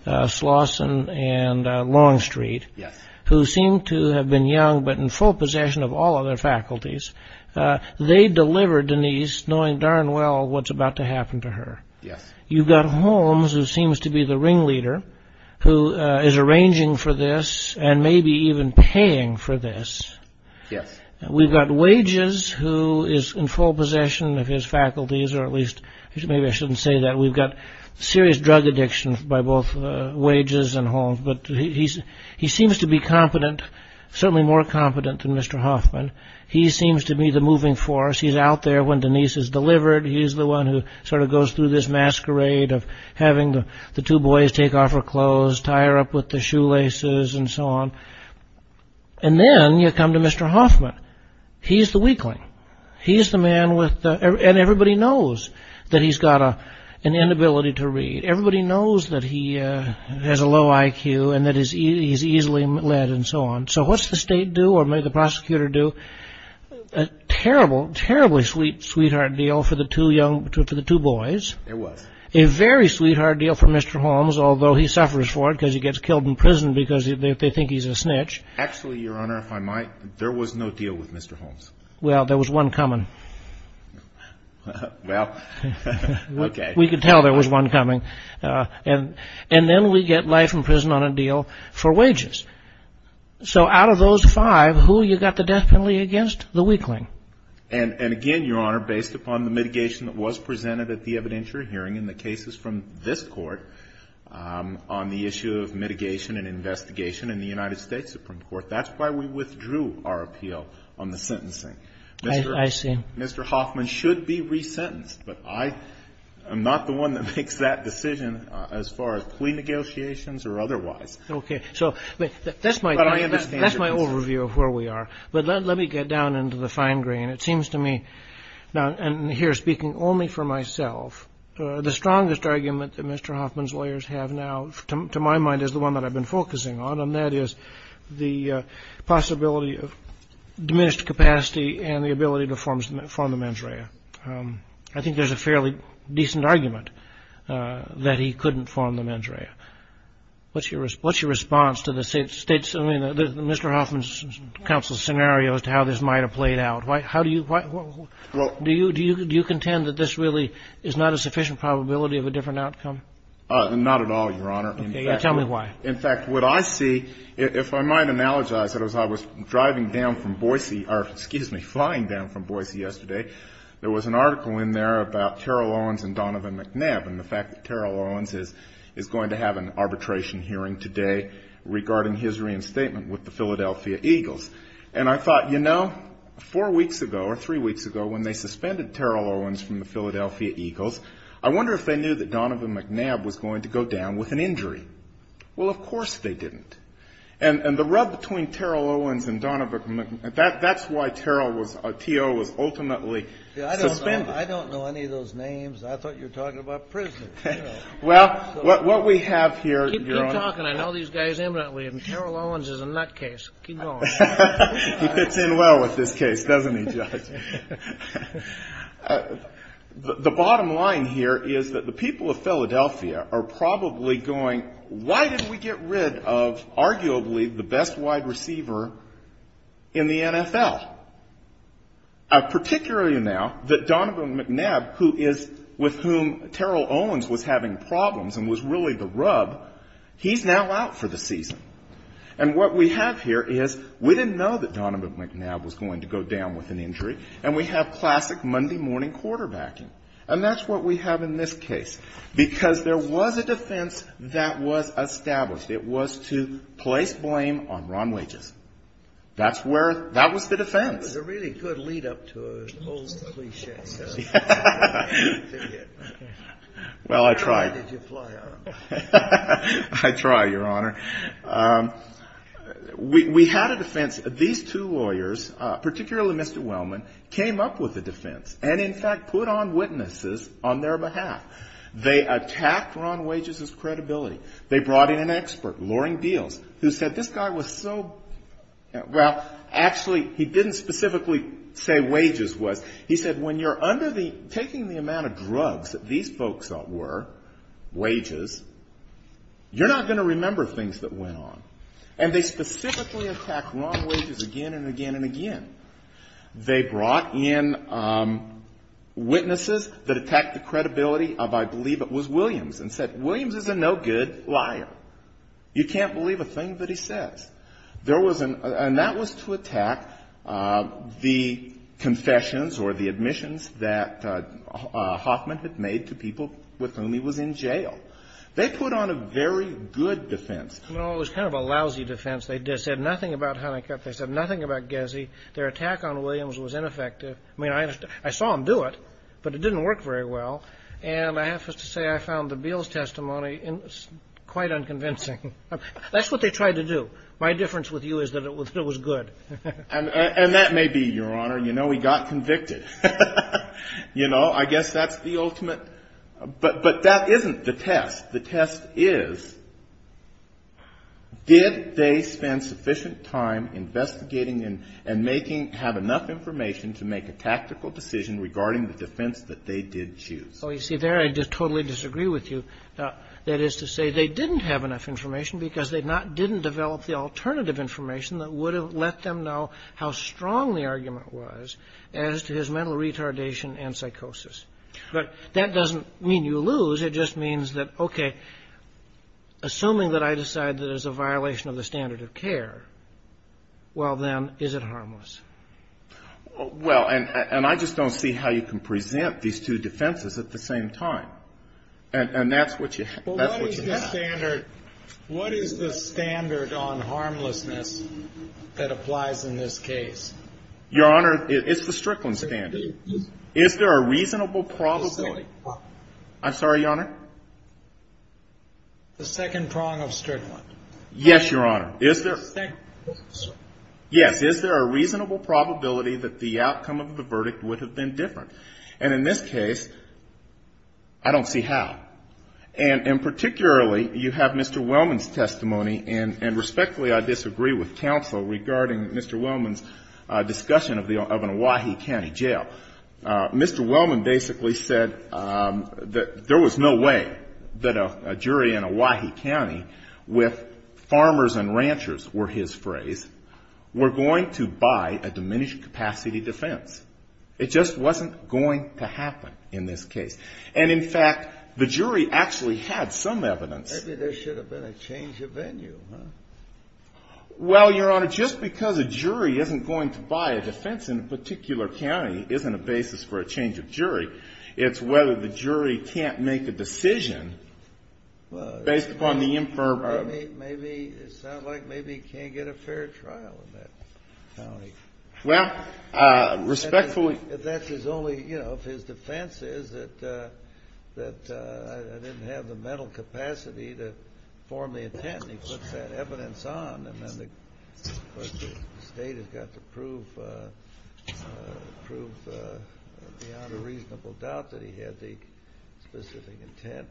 Slauson and Longstreet, who seem to have been young but in full possession of all of their faculties. They delivered Denise knowing darn well what's about to happen to her. You've got Holmes, who seems to be the ringleader, who is arranging for this and maybe even paying for this. We've got Wages, who is in full possession of his faculties, or at least maybe I shouldn't say that. We've got serious drug addiction by both Wages and Holmes, but he seems to be confident, certainly more confident than Mr. Hoffman. He seems to be the moving force. He's out there when Denise is delivered. He's the one who sort of goes through this masquerade of having the two boys take off her clothes, tie her up with their shoelaces, and so on. And then you come to Mr. Hoffman. He's the weakling. He's the man with, and everybody knows that he's got an inability to read. Everybody knows that he has a low IQ and that he's easily led and so on. So what's the state do or may the prosecutor do? A terrible, terribly sweet, sweetheart deal for the two boys. A very sweetheart deal for Mr. Holmes, although he suffers for it because they think he's a snitch. Actually, Your Honor, there was no deal with Mr. Holmes. Well, there was one coming. Well, okay. We could tell there was one coming. And then we get life in prison on a deal for Wages. So out of those five, who have you got the death penalty against? The weakling. And again, Your Honor, based upon the mitigation that was presented at the evidentiary hearing and the cases from this court on the issue of mitigation and investigation in the United States Supreme Court, that's why we withdrew our appeal on the sentencing. I see. Mr. Hoffman should be resentenced, but I am not the one that makes that decision as far as plea negotiations or otherwise. Okay. So that's my overview of where we are. But let me get down into the fine grain. It seems to me, and here speaking only for myself, the strongest argument that Mr. Hoffman's lawyers have now, to my mind, is the one that I've been focusing on, and that is the possibility of diminished capacity and the ability to form the mens rea. I think there's a fairly decent argument that he couldn't form the mens rea. What's your response to Mr. Hoffman's counsel's scenario to how this might have played out? Do you contend that this really is not a sufficient probability of a different outcome? Not at all, Your Honor. Tell me why. In fact, what I see, if I might analogize it, as I was flying down from Boise yesterday, there was an article in there about Terrell Owens and Donovan McNabb, and the fact that Terrell Owens is going to have an arbitration hearing today regarding his reinstatement with the Philadelphia Eagles. And I thought, you know, four weeks ago or three weeks ago when they suspended Terrell Owens from the Philadelphia Eagles, I wonder if they knew that Donovan McNabb was going to go down with an injury. Well, of course they didn't. And the rub between Terrell Owens and Donovan McNabb, that's why Terrell was ultimately suspended. I don't know any of those names. I thought you were talking about prisoners. Well, what we have here, Your Honor. Keep talking. I know these guys imminently. Terrell Owens is a nutcase. He fits in well with this case, doesn't he, Judge? The bottom line here is that the people of Philadelphia are probably going, why didn't we get rid of arguably the best wide receiver in the NFL? Particularly now that Donovan McNabb, with whom Terrell Owens was having problems and was really the rub, he's now out for the season. And what we have here is we didn't know that Donovan McNabb was going to go down with an injury, and we have classic Monday morning quarterbacking. And that's what we have in this case. Because there was a defense that was established. It was to place blame on Ron Wages. That was the defense. That was a really good lead-up to an old cliché. Well, I tried. I tried, Your Honor. We had a defense. These two lawyers, particularly Mr. Wellman, came up with a defense, and in fact put on witnesses on their behalf. They attacked Ron Wages' credibility. They brought in an expert, Loring Beals, who said this guy was so, well, actually he didn't specifically say Wages was. He said when you're taking the amount of drugs that these folks were, Wages, you're not going to remember things that went on. And they specifically attacked Ron Wages again and again and again. They brought in witnesses that attacked the credibility of, I believe it was Williams, and said, Williams is a no-good liar. You can't believe a thing that he says. And that was to attack the confessions or the admissions that Hoffman had made to people with whom he was in jail. They put on a very good defense. No, it was kind of a lousy defense. They said nothing about Hunnicutt. They said nothing about Gezzi. Their attack on Williams was ineffective. I mean, I saw them do it, but it didn't work very well, and I have to say I found the Beals testimony quite unconvincing. That's what they tried to do. My difference with you is that it was good. And that may be, Your Honor, you know, we got convicted. You know, I guess that's the ultimate. But that isn't the test. The test is, did they spend sufficient time investigating and have enough information to make a tactical decision regarding the defense that they did choose? Oh, you see there, I just totally disagree with you. That is to say, they didn't have enough information because they didn't develop the alternative information that would have let them know how strong the argument was as to his mental retardation and psychosis. But that doesn't mean you lose. It just means that, okay, assuming that I decide that it's a violation of the standard of care, well then, is it harmless? Well, and I just don't see how you can present these two defenses at the same time. And that's what you have. What is the standard on harmlessness that applies in this case? Your Honor, it's the Strickland standard. Is there a reasonable probability? I'm sorry, Your Honor? The second prong of Strickland. Yes, Your Honor. Is there a reasonable probability that the outcome of the verdict would have been different? And in this case, I don't see how. And particularly, you have Mr. Wellman's testimony, and respectfully I disagree with counsel regarding Mr. Wellman's discussion of an Owyhee County jail. Mr. Wellman basically said that there was no way that a jury in Owyhee County, with farmers and ranchers were his phrase, were going to buy a diminished capacity defense. It just wasn't going to happen in this case. And in fact, the jury actually had some evidence. Maybe there should have been a change of venue, huh? Well, Your Honor, just because a jury isn't going to buy a defense in a particular county isn't a basis for a change of jury. It's whether the jury can't make a decision based upon the infirmary. Maybe it sounds like maybe he can't get a fair trial in that county. Well, respectfully... If that is only, you know, if his defense is that I didn't have the mental capacity to form the intent, and he puts that evidence on, and then the state has got to prove beyond a reasonable doubt that he had the specific intent,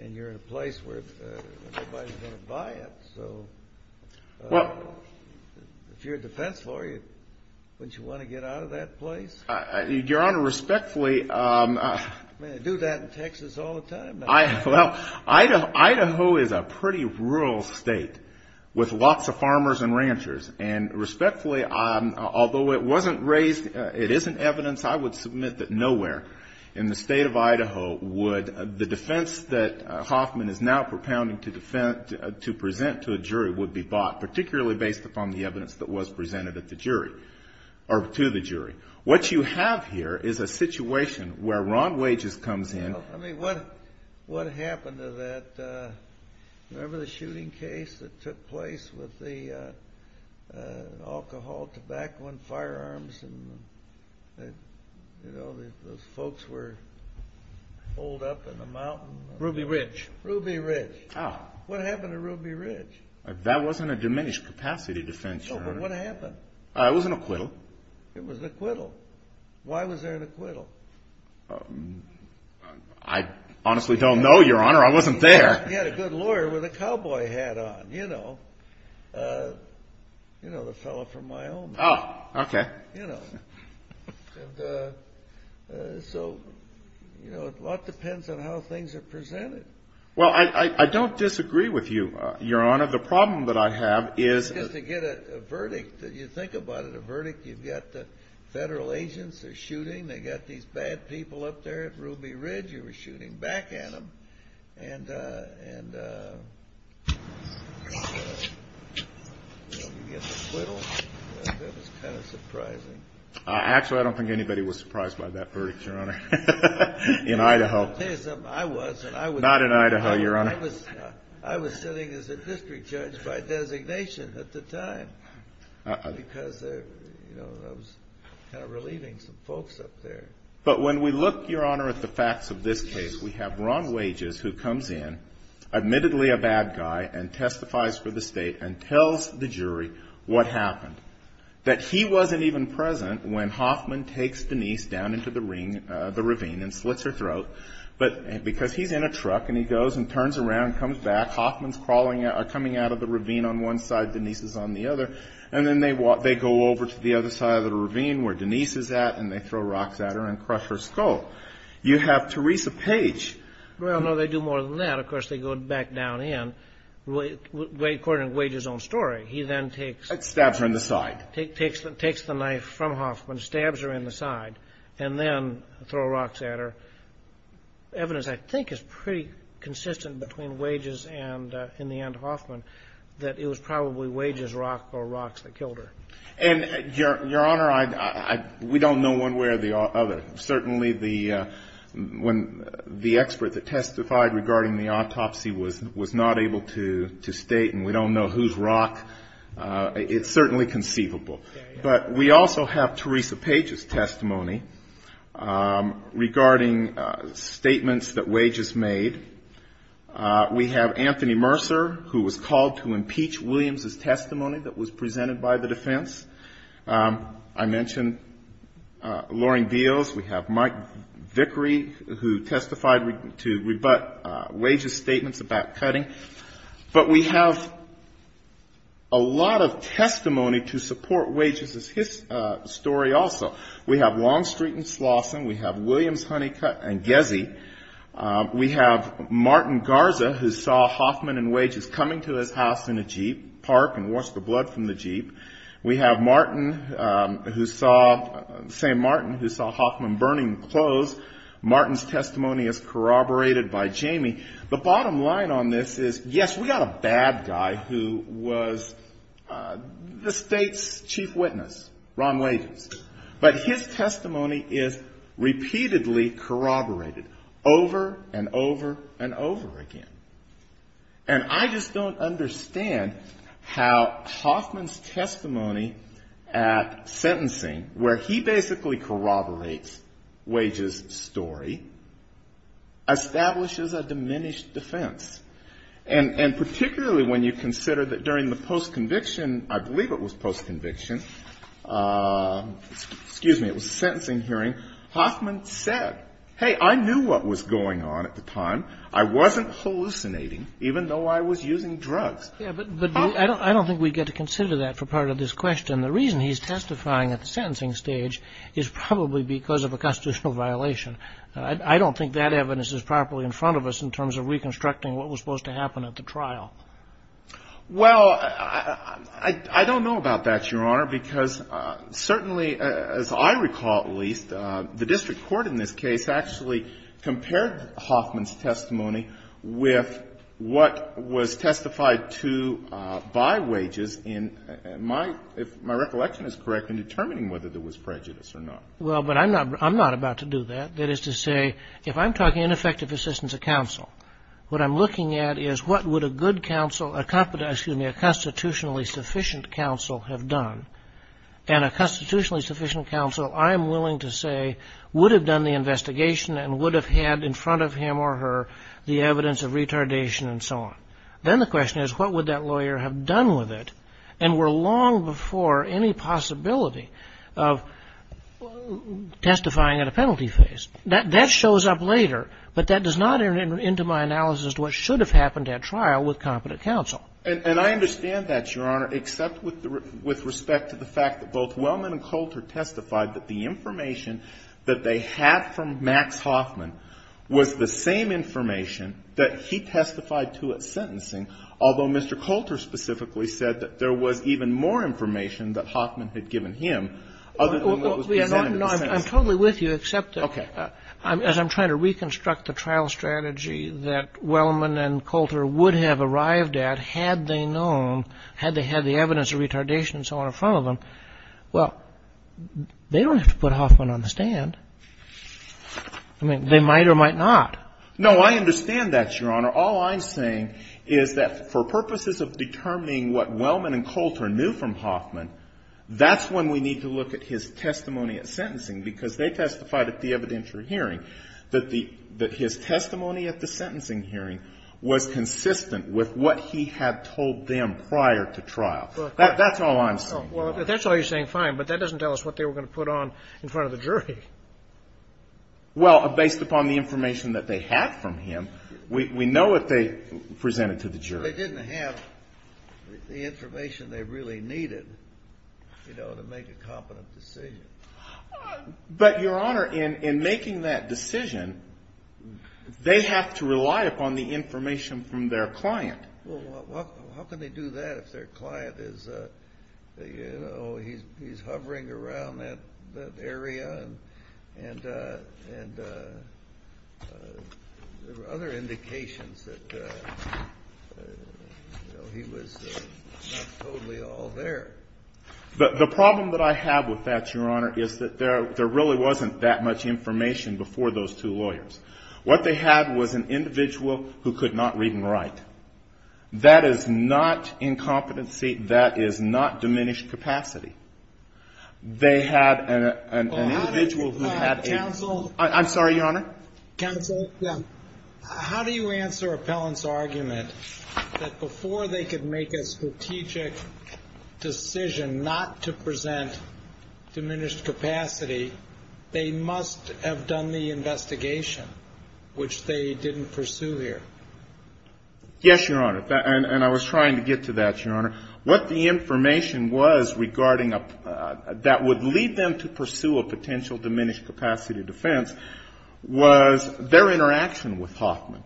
and you're in a place where nobody's going to buy it. So if you're a defense lawyer, wouldn't you want to get out of that place? Your Honor, respectfully... I mean, they do that in Texas all the time. Well, Idaho is a pretty rural state with lots of farmers and ranchers. And respectfully, although it wasn't raised, it isn't evidence, I would submit that nowhere in the state of Idaho would the defense that Hoffman is now propounding to present to the jury would be bought, particularly based upon the evidence that was presented to the jury. What you have here is a situation where wrong wages comes in. I mean, what happened to that? Remember the shooting case that took place with the alcohol, tobacco, and firearms? And, you know, those folks were holed up in a mountain? Ruby Ridge. Ruby Ridge. What happened to Ruby Ridge? That wasn't a diminished capacity defense, Your Honor. No, but what happened? It was an acquittal. It was an acquittal. Why was there an acquittal? I honestly don't know, Your Honor. I wasn't there. You had a good lawyer with a cowboy hat on, you know. You know, the fellow from Wyoming. Oh, okay. So, you know, a lot depends on how things are presented. Well, I don't disagree with you, Your Honor. The problem that I have is... You get a verdict. You think about it. A verdict. You've got the federal agents who are shooting. They've got these bad people up there at Ruby Ridge who are shooting back at them. And when you get acquittals, it's kind of surprising. Actually, I don't think anybody was surprised by that verdict, Your Honor, in Idaho. I'll tell you something. I was. Not in Idaho, Your Honor. I was sitting as a district judge by designation at the time because, you know, I was kind of relieving some folks up there. But when we look, Your Honor, at the facts of this case, we have Ron Wages who comes in, admittedly a bad guy, and testifies for the state and tells the jury what happened. That he wasn't even present when Hoffman takes Denise down into the ravine and splits her throat. But because he's in a truck and he goes and turns around and comes back, Hoffman's coming out of the ravine on one side, Denise is on the other. And then they go over to the other side of the ravine where Denise is at and they throw rocks at her and crush her skull. You have Teresa Page. Well, no, they do more than that. Of course, they go back down in. According to Wages' own story, he then takes the knife from Hoffman, stabs her in the side, and then throw rocks at her. Evidence, I think, is pretty consistent between Wages and, in the end, Hoffman, that it was probably Wages' rock or rocks that killed her. And, Your Honor, we don't know one way or the other. Certainly the expert that testified regarding the autopsy was not able to state, and we don't know who's rock. It's certainly conceivable. But we also have Teresa Page's testimony regarding statements that Wages made. We have Anthony Mercer, who was called to impeach Williams' testimony that was presented by the defense. I mentioned Lauren Beals. We have Mike Vickery, who testified to rebut Wages' statements about cutting. But we have a lot of testimony to support Wages' story also. We have Longstreet and Slauson. We have Williams, Honeycutt, and Gezzi. We have Martin Garza, who saw Hoffman and Wages coming to the house in a jeep, park, and wash the blood from the jeep. We have St. Martin, who saw Hoffman burning clothes. Martin's testimony is corroborated by Jamie. The bottom line on this is, yes, we got a bad guy who was the state's chief witness, Ron Lazen. But his testimony is repeatedly corroborated over and over and over again. And I just don't understand how Hoffman's testimony at sentencing, where he basically corroborates Wages' story, establishes a diminished defense. And particularly when you consider that during the post-conviction, I believe it was post-conviction, excuse me, it was a sentencing hearing, Hoffman said, hey, I knew what was going on at the time. I wasn't hallucinating, even though I was using drugs. Yeah, but I don't think we get to consider that for part of this question. The reason he's testifying at the sentencing stage is probably because of a constitutional violation. I don't think that evidence is properly in front of us in terms of reconstructing what was supposed to happen at the trial. Well, I don't know about that, Your Honor, because certainly, as I recall at least, the district court in this case actually compared Hoffman's testimony with what was testified to by Wages. And my recollection is correct in determining whether there was prejudice or not. Well, but I'm not about to do that. That is to say, if I'm talking ineffective assistance of counsel, what I'm looking at is what would a good counsel, excuse me, a constitutionally sufficient counsel have done. And a constitutionally sufficient counsel, I'm willing to say, would have done the investigation and would have had in front of him or her the evidence of retardation and so on. Then the question is what would that lawyer have done with it and were long before any possibility of testifying at a penalty phase. That shows up later, but that does not enter into my analysis of what should have happened at trial with competent counsel. And I understand that, Your Honor, except with respect to the fact that both Wellman and Coulter testified that the information that they had from Max Hoffman was the same information that he testified to at sentencing, although Mr. Coulter specifically said that there was even more information that Hoffman had given him, other than what was presented at the time. No, I'm totally with you except that as I'm trying to reconstruct the trial strategy that Wellman and Coulter would have arrived at had they known, had they had the evidence of retardation and so on in front of them, well, they don't have to put Hoffman on the stand. I mean, they might or might not. No, I understand that, Your Honor. All I'm saying is that for purposes of determining what Wellman and Coulter knew from Hoffman, that's when we need to look at his testimony at sentencing, because they testified at the evidentiary hearing that his testimony at the sentencing hearing was consistent with what he had told them prior to trial. That's all I'm saying. Well, that's all you're saying, fine, but that doesn't tell us what they were going to put on in front of the jury. Well, based upon the information that they had from him, we know what they presented to the jury. They didn't have the information they really needed, you know, to make a competent decision. But, Your Honor, in making that decision, they have to rely upon the information from their client. Well, how can they do that if their client is, you know, he's hovering around that area and there are other indications that, you know, he was totally all there. The problem that I have with that, Your Honor, is that there really wasn't that much information before those two lawyers. What they had was an individual who could not read and write. That is not incompetency. That is not diminished capacity. They had an individual who had a... Counsel... I'm sorry, Your Honor. Counsel, how do you answer Appellant's argument that before they could make a strategic decision not to present diminished capacity, they must have done the investigation, which they didn't pursue here? Yes, Your Honor, and I was trying to get to that, Your Honor. What the information was regarding... that would lead them to pursue a potential diminished capacity defense was their interaction with Hoffman.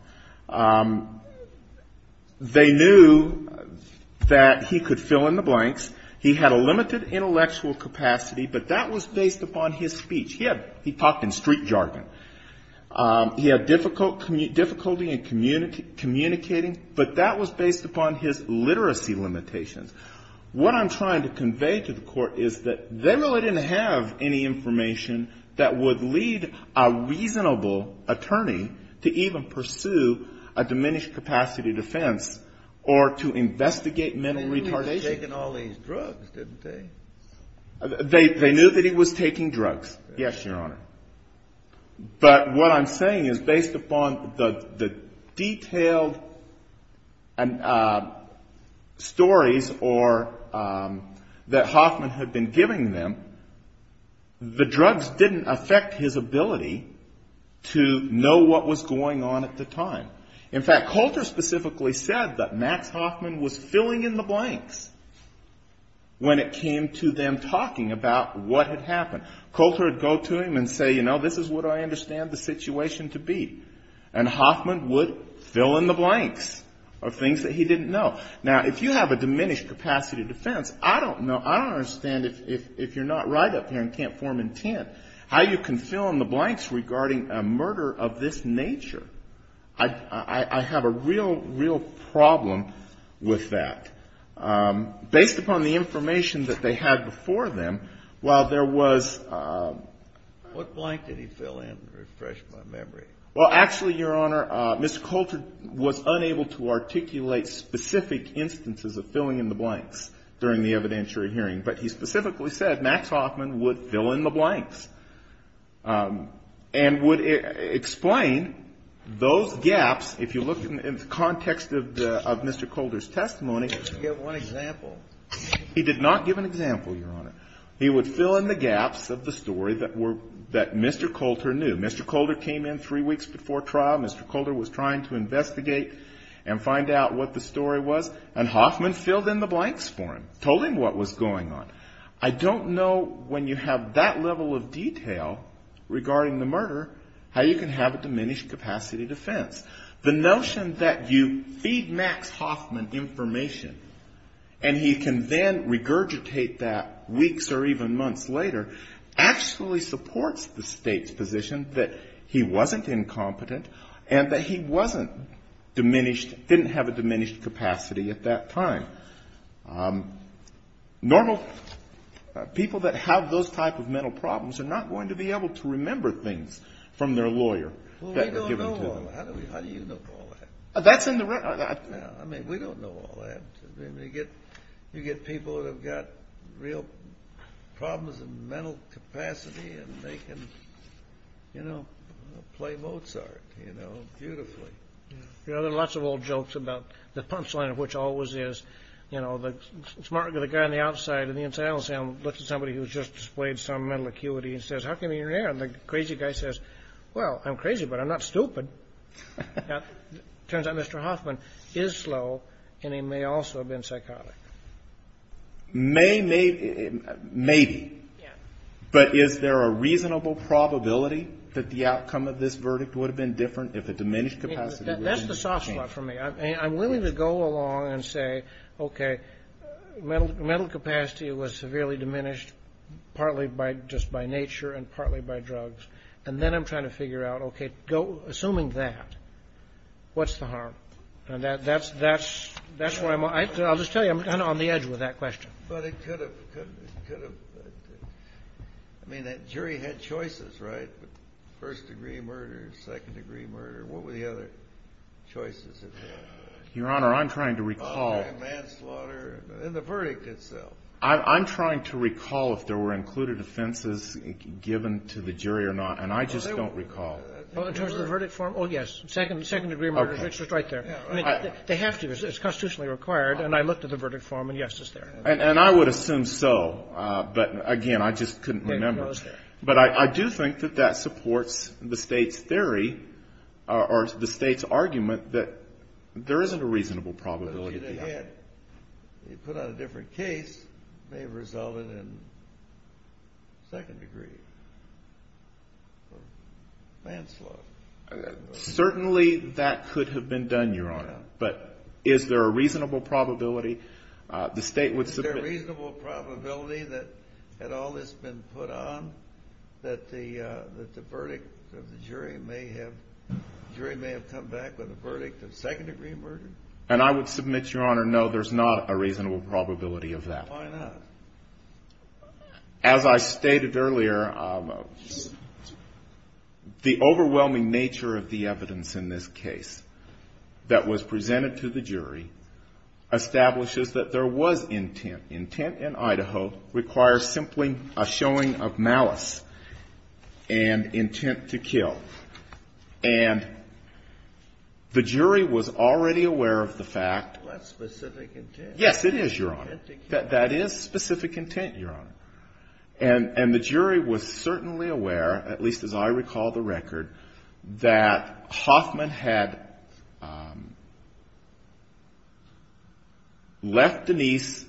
They knew that he could fill in the blanks. He had a limited intellectual capacity, but that was based upon his speech. He talked in street jargon. He had difficulty in communicating, but that was based upon his literacy limitations. What I'm trying to convey to the Court is that they really didn't have any information that would lead a reasonable attorney to even pursue a diminished capacity defense or to investigate men in retardation. They knew he was taking all these drugs, didn't they? They knew that he was taking drugs, yes, Your Honor. But what I'm saying is, based upon the detailed stories that Hoffman had been giving them, the drugs didn't affect his ability to know what was going on at the time. In fact, Coulter specifically said that Max Hoffman was filling in the blanks when it came to them talking about what had happened. Coulter would go to him and say, you know, this is what I understand the situation to be. And Hoffman would fill in the blanks of things that he didn't know. Now, if you have a diminished capacity defense, I don't know, I don't understand, if you're not right up here and can't form intent, how you can fill in the blanks regarding a murder of this nature. I have a real, real problem with that. Based upon the information that they had before them, while there was – What blank did he fill in to refresh my memory? Well, actually, Your Honor, Mr. Coulter was unable to articulate specific instances of filling in the blanks during the evidentiary hearing. But he specifically said Max Hoffman would fill in the blanks and would explain those gaps. If you look in the context of Mr. Coulter's testimony – Give one example. He did not give an example, Your Honor. He would fill in the gaps of the story that Mr. Coulter knew. Mr. Coulter came in three weeks before trial. Mr. Coulter was trying to investigate and find out what the story was. And Hoffman filled in the blanks for him, told him what was going on. I don't know, when you have that level of detail regarding the murder, how you can have a diminished capacity defense. The notion that you feed Max Hoffman information and he can then regurgitate that weeks or even months later actually supports the State's position that he wasn't incompetent and that he didn't have a diminished capacity at that time. Normal people that have those type of mental problems are not going to be able to remember things from their lawyer. Well, they don't know all that. How do you know all that? That's in the record. I mean, we don't know all that. You get people that have got real problems of mental capacity and they can, you know, play Mozart, you know, beautifully. You know, there are lots of old jokes about the punchline, which always is, you know, the smart guy on the outside of the entire cell looks at somebody who's just displayed some mental acuity and says, how come you're there? And the crazy guy says, well, I'm crazy, but I'm not stupid. It turns out Mr. Hoffman is slow and he may also have been psychotic. Maybe. Maybe. But is there a reasonable probability that the outcome of this verdict would have been different if a diminished capacity was maintained? That's the soft spot for me. I'm willing to go along and say, okay, mental capacity was severely diminished partly just by nature and partly by drugs. And then I'm trying to figure out, okay, assuming that, what's the harm? And that's what I'm on. I'll just tell you, I'm kind of on the edge with that question. But it could have. I mean, that jury had choices, right? First degree murder, second degree murder. What were the other choices? Your Honor, I'm trying to recall. Oh, manslaughter. And the verdict itself. I'm trying to recall if there were included offenses given to the jury or not, and I just don't recall. Well, in terms of the verdict form, oh, yes, second degree murder. It's just right there. They have to. It's constitutionally required. And I looked at the verdict form, and, yes, it's there. And I would assume so. But, again, I just couldn't remember. But I do think that that supports the State's theory or the State's argument that there isn't a reasonable probability. They put out a different case. They've resolved it in second degree manslaughter. Certainly that could have been done, Your Honor. But is there a reasonable probability? Is there a reasonable probability that had all this been put on that the verdict of the jury may have come back with a verdict of second degree murder? And I would submit, Your Honor, no, there's not a reasonable probability of that. Why not? As I stated earlier, the overwhelming nature of the evidence in this case that was presented to the jury establishes that there was intent. Intent in Idaho requires simply a showing of malice and intent to kill. And the jury was already aware of the fact. Well, that's specific intent. Yes, it is, Your Honor. That is specific intent, Your Honor. And the jury was certainly aware, at least as I recall the record, that Hoffman had left Denise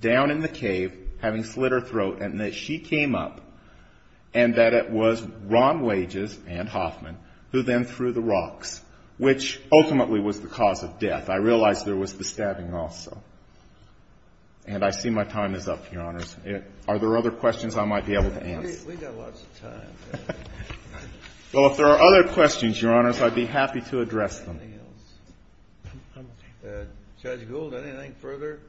down in the cave having slit her throat, and that she came up, and that it was Ron Wages and Hoffman who then threw the rocks, which ultimately was the cause of death. I realize there was the stabbing also. And I see my time is up, Your Honor. Are there other questions I might be able to answer? We've got lots of time. Well, if there are other questions, Your Honor, I'd be happy to address them. Judge Gould, anything further?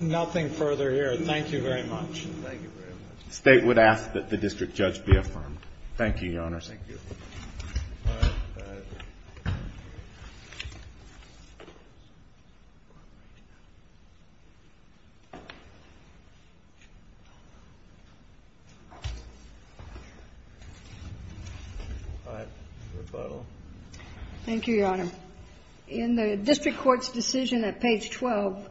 Nothing further here. Thank you very much. Thank you very much. The State would ask that the District Judge be affirmed. Thank you, Your Honor. Thank you. Thank you, Your Honor. In the District Court's decision at page 12,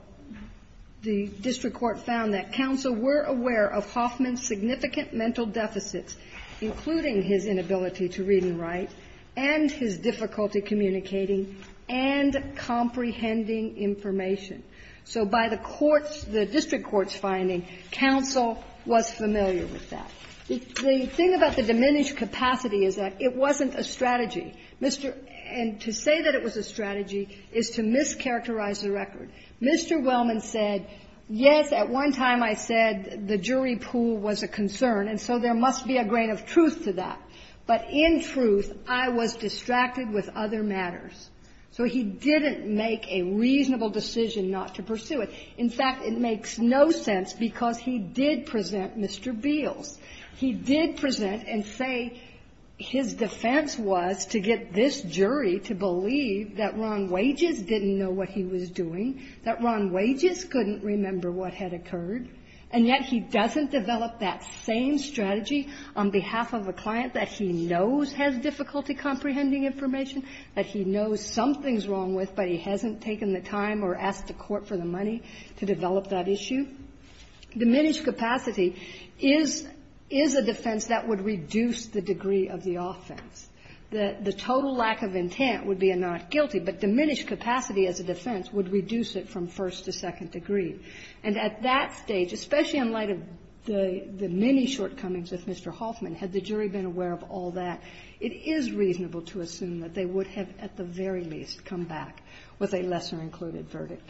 the District Court found that counsel were aware of Hoffman's significant mental deficits, including his inability to read and write, and his difficulty communicating and comprehending information. So by the District Court's finding, counsel was familiar with that. The thing about the diminished capacity is that it wasn't a strategy. And to say that it was a strategy is to mischaracterize the record. Mr. Wellman said, yes, at one time I said the jury pool was a concern, and so there must be a grain of truth to that. But in truth, I was distracted with other matters. So he didn't make a reasonable decision not to pursue it. In fact, it makes no sense because he did present Mr. Beal. He did present and say his defense was to get this jury to believe that Ron Wages didn't know what he was doing, that Ron Wages couldn't remember what had occurred, and yet he doesn't develop that same strategy on behalf of a client that he knows has difficulty comprehending information, that he knows something's wrong with, but he hasn't taken the time or asked the court for the money to develop that issue. Diminished capacity is a defense that would reduce the degree of the offense. The total lack of intent would be a not guilty, but diminished capacity as a defense would reduce it from first to second degree. And at that stage, especially in light of the many shortcomings of Mr. Hoffman, had the jury been aware of all that, it is reasonable to assume that they would have at the very least come back with a lesser included verdict.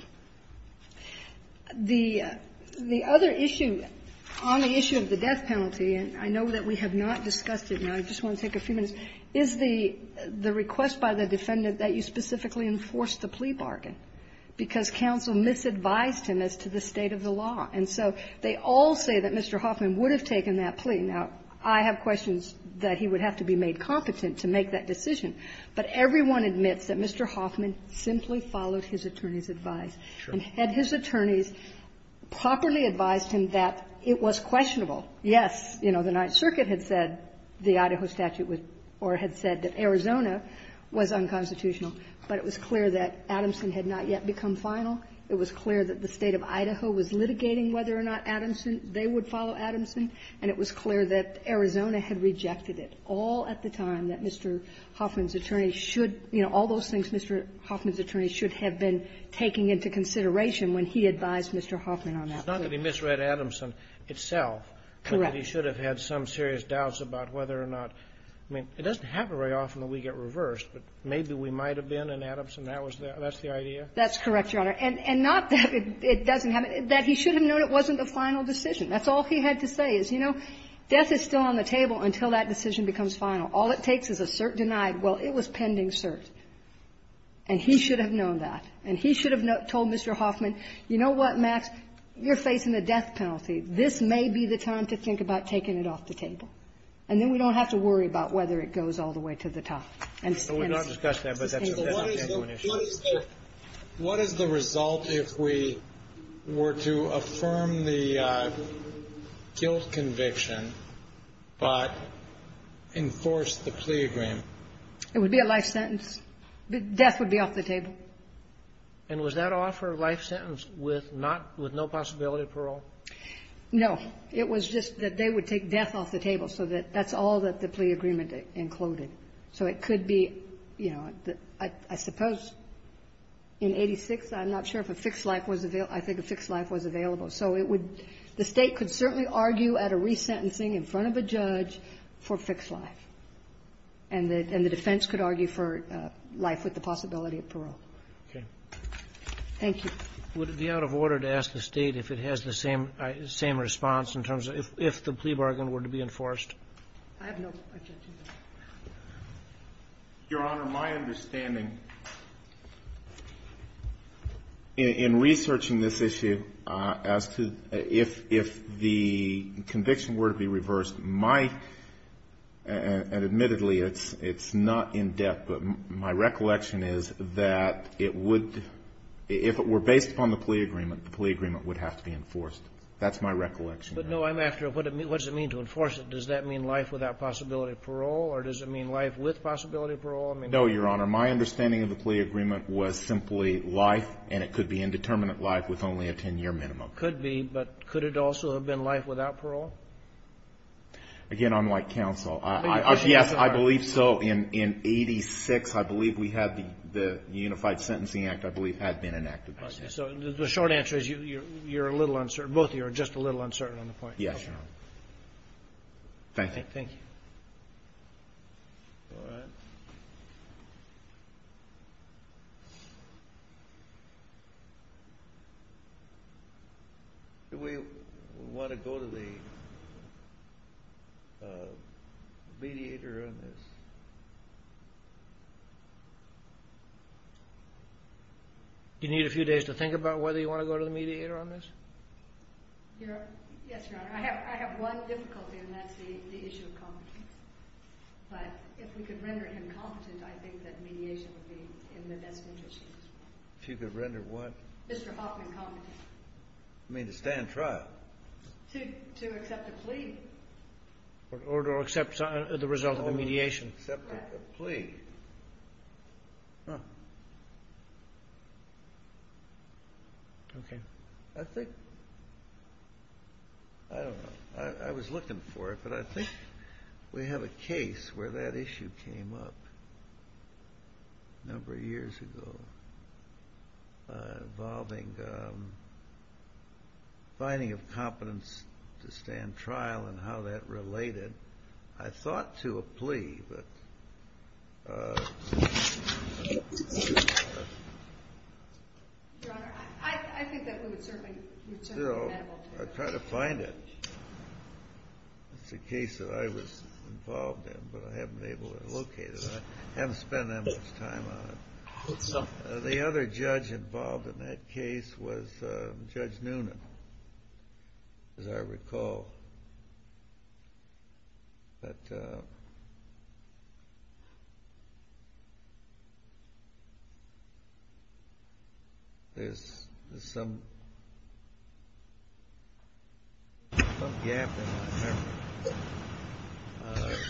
The other issue on the issue of the death penalty, and I know that we have not discussed it, and I just want to take a few minutes, is the request by the defendant that you specifically enforce the plea bargain because counsel misadvised him as to the state of the law. And so they all say that Mr. Hoffman would have taken that plea. Now, I have questions that he would have to be made competent to make that decision, but everyone admits that Mr. Hoffman simply followed his attorney's advice and had his attorney properly advised him that it was questionable. Yes, you know, the Ninth Circuit had said the Idaho statute or had said that Arizona was unconstitutional, but it was clear that Adamson had not yet become final. It was clear that the state of Idaho was litigating whether or not they would follow Adamson, and it was clear that Arizona had rejected it all at the time that Mr. Hoffman's attorney should, you know, all those things Mr. Hoffman's attorney should have been taking into consideration when he advised Mr. Hoffman on that plea. It's not that he misread Adamson itself. Correct. He should have had some serious doubts about whether or not, I mean, it doesn't happen very often that we get reversed, but maybe we might have been, and Adamson, that's the idea? That's correct, Your Honor. And not that it doesn't happen, that he should have known it wasn't the final decision. That's all he had to say is, you know, death is still on the table until that decision becomes final. All it takes is a cert denied. Well, it was pending cert, and he should have known that, and he should have told Mr. Hoffman, you know what, Max, you're facing the death penalty. This may be the time to think about taking it off the table, and then we don't have to worry about whether it goes all the way to the top. We don't discuss that, but that's a different issue. What is the result if we were to affirm the guilt conviction but enforce the plea agreement? It would be a life sentence. Death would be off the table. And was that offer a life sentence with no possibility of parole? No. It was just that they would take death off the table, so that's all that the plea agreement included. So it could be, you know, I suppose in 86, I'm not sure if a fixed life was available. I think a fixed life was available. So the state could certainly argue at a resentencing in front of a judge for fixed life, and the defense could argue for life with the possibility of parole. Okay. Thank you. Would it be out of order to ask the state if it has the same response in terms of if the plea bargain were to be enforced? I have no objection to that. Your Honor, my understanding in researching this issue as to if the conviction were to be reversed, my, and admittedly it's not in depth, but my recollection is that it would, if it were based upon the plea agreement, the plea agreement would have to be enforced. That's my recollection. But, no, I'm asking what does it mean to enforce it? Does that mean life without possibility of parole, or does it mean life with possibility of parole? No, Your Honor, my understanding of the plea agreement was simply life, and it could be indeterminate life with only a 10-year minimum. Could be, but could it also have been life without parole? Again, unlike counsel, yes, I believe so. In 86, I believe we had the Unified Sentencing Act, I believe, had been enacted by then. So the short answer is you're a little uncertain, both of you are just a little uncertain on the point. Yes, Your Honor. Thank you. Thank you. All right. Do we want to go to the mediator on this? You need a few days to think about whether you want to go to the mediator on this? Yes, Your Honor. I have one difficulty, and that's the issue of competency. But if we could render him competent, I think that mediation would be in the best interest. If you could render what? Mr. Hoffman competent. You mean to stand trial? To accept the plea. Or to accept the result of the mediation. Or to accept the plea. Oh. Okay. I think, I don't know, I was looking for it, but I think we have a case where that issue came up a number of years ago, involving finding of competence to stand trial and how that related, I thought, to a plea. But... Your Honor, I think that we would certainly, you know, try to find it. It's a case that I was involved in, but I haven't been able to locate it. I haven't spent that much time on it. The other judge involved in that case was Judge Noonan, as I recall. But... There's some gap in my memory. All right.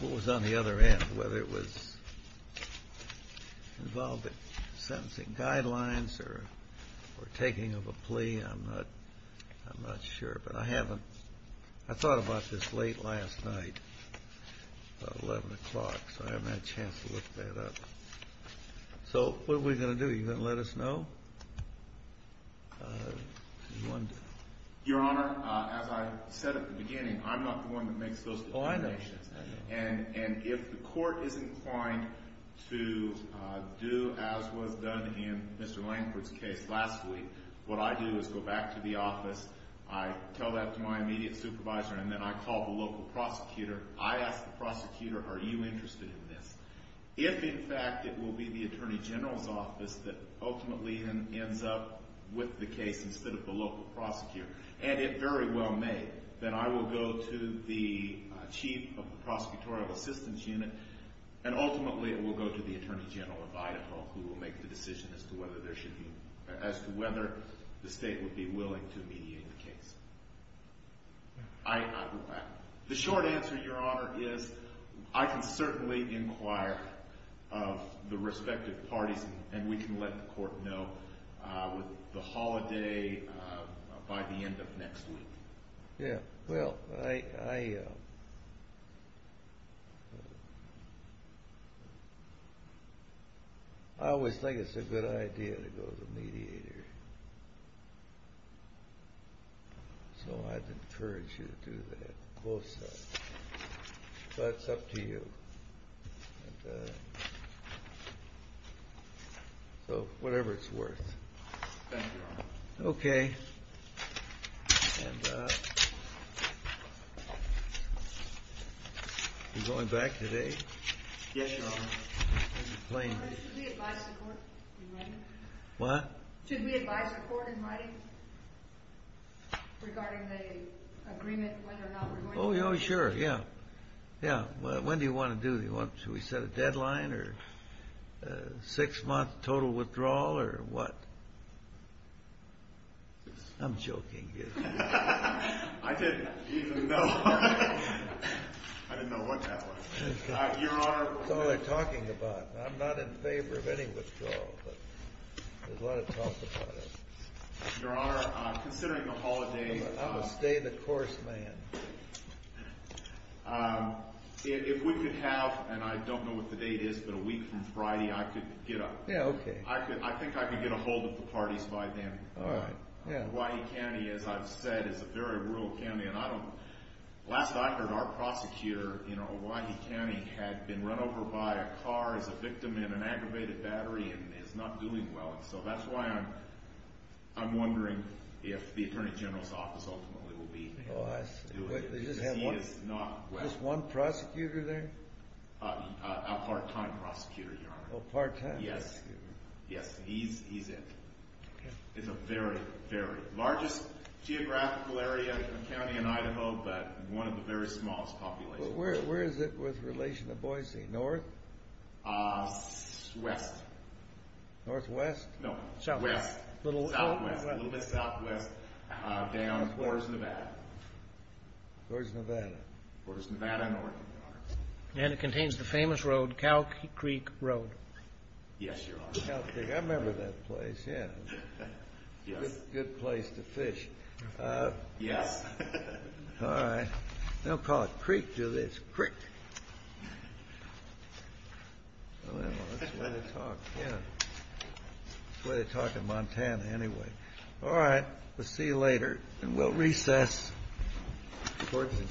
What was on the other end, whether it was involved in sentencing guidelines or taking of a plea, I'm not sure. But I haven't, I thought about this late last night, about 11 o'clock, so I haven't had a chance to look that up. So, what are we going to do? Are you going to let us know? Your Honor, as I said at the beginning, I'm not the one that makes those declarations. And if the court isn't inclined to do as was done in Mr. Lankford's case last week, what I do is go back to the office, I tell that to my immediate supervisor, and then I call the local prosecutor. I ask the prosecutor, are you interested in this? If, in fact, it will be the Attorney General's office that ultimately ends up with the case instead of the local prosecutor, and if very well may, then I will go to the Chief of the Prosecutorial Assistance Unit, and ultimately it will go to the Attorney General of Idaho, who will make the decision as to whether the state would be willing to mediate the case. The short answer, Your Honor, is I can certainly inquire the respective parties, and we can let the court know the holiday by the end of next week. Yeah, well, I always think it's a good idea to go to the mediator, so I'd encourage you to do that, both sides. That's up to you. So, whatever it's worth. Thank you, Your Honor. Okay. You going back today? Yes, Your Honor. Should we advise the court? What? Should we advise the court in writing regarding the agreement, whether or not we're going to do it? Oh, yeah, sure, yeah. Yeah, well, when do you want to do it? Should we set a deadline, or a six-month total withdrawal, or what? I'm joking. I didn't even know. I didn't know what that was. Your Honor. That's all they're talking about. I'm not in favor of any withdrawal, but there's a lot of talk about it. Your Honor, considering the holiday. I'm a stay-in-the-course man. If we could have, and I don't know what the date is, but a week from Friday, I could get up. Yeah, okay. I think I could get ahold of the parties by then. All right. Yeah. Hawaii County, as I've said, is a very rural county, and I don't – last I heard, our profits here in Hawaii County had been run over by a car as a victim in an aggravated battery, and it's not doing well. So that's why I'm wondering if the Attorney General's office ultimately will be – Oh, I see. He just had one – He is not – Just one prosecutor there? A part-time prosecutor, Your Honor. Oh, part-time prosecutor. Yes. Yes. He's in. Okay. It's a very, very – largest geographical area in the county of Idaho, but one of the very smallest populations. Where is it with relation to Boise? North? Southwest. Northwest? No. Southwest. A little bit southwest down towards Nevada. Towards Nevada. Towards Nevada and north. And it contains the famous road, Cow Creek Road. Yes, Your Honor. I remember that place. Yeah. Yeah. Good place to fish. Yeah. All right. They'll call it Creek to this. Creek. Well, that's where they talk, yeah. That's where they talk in Montana, anyway. All right. We'll see you later. And we'll recess. Court is adjourned.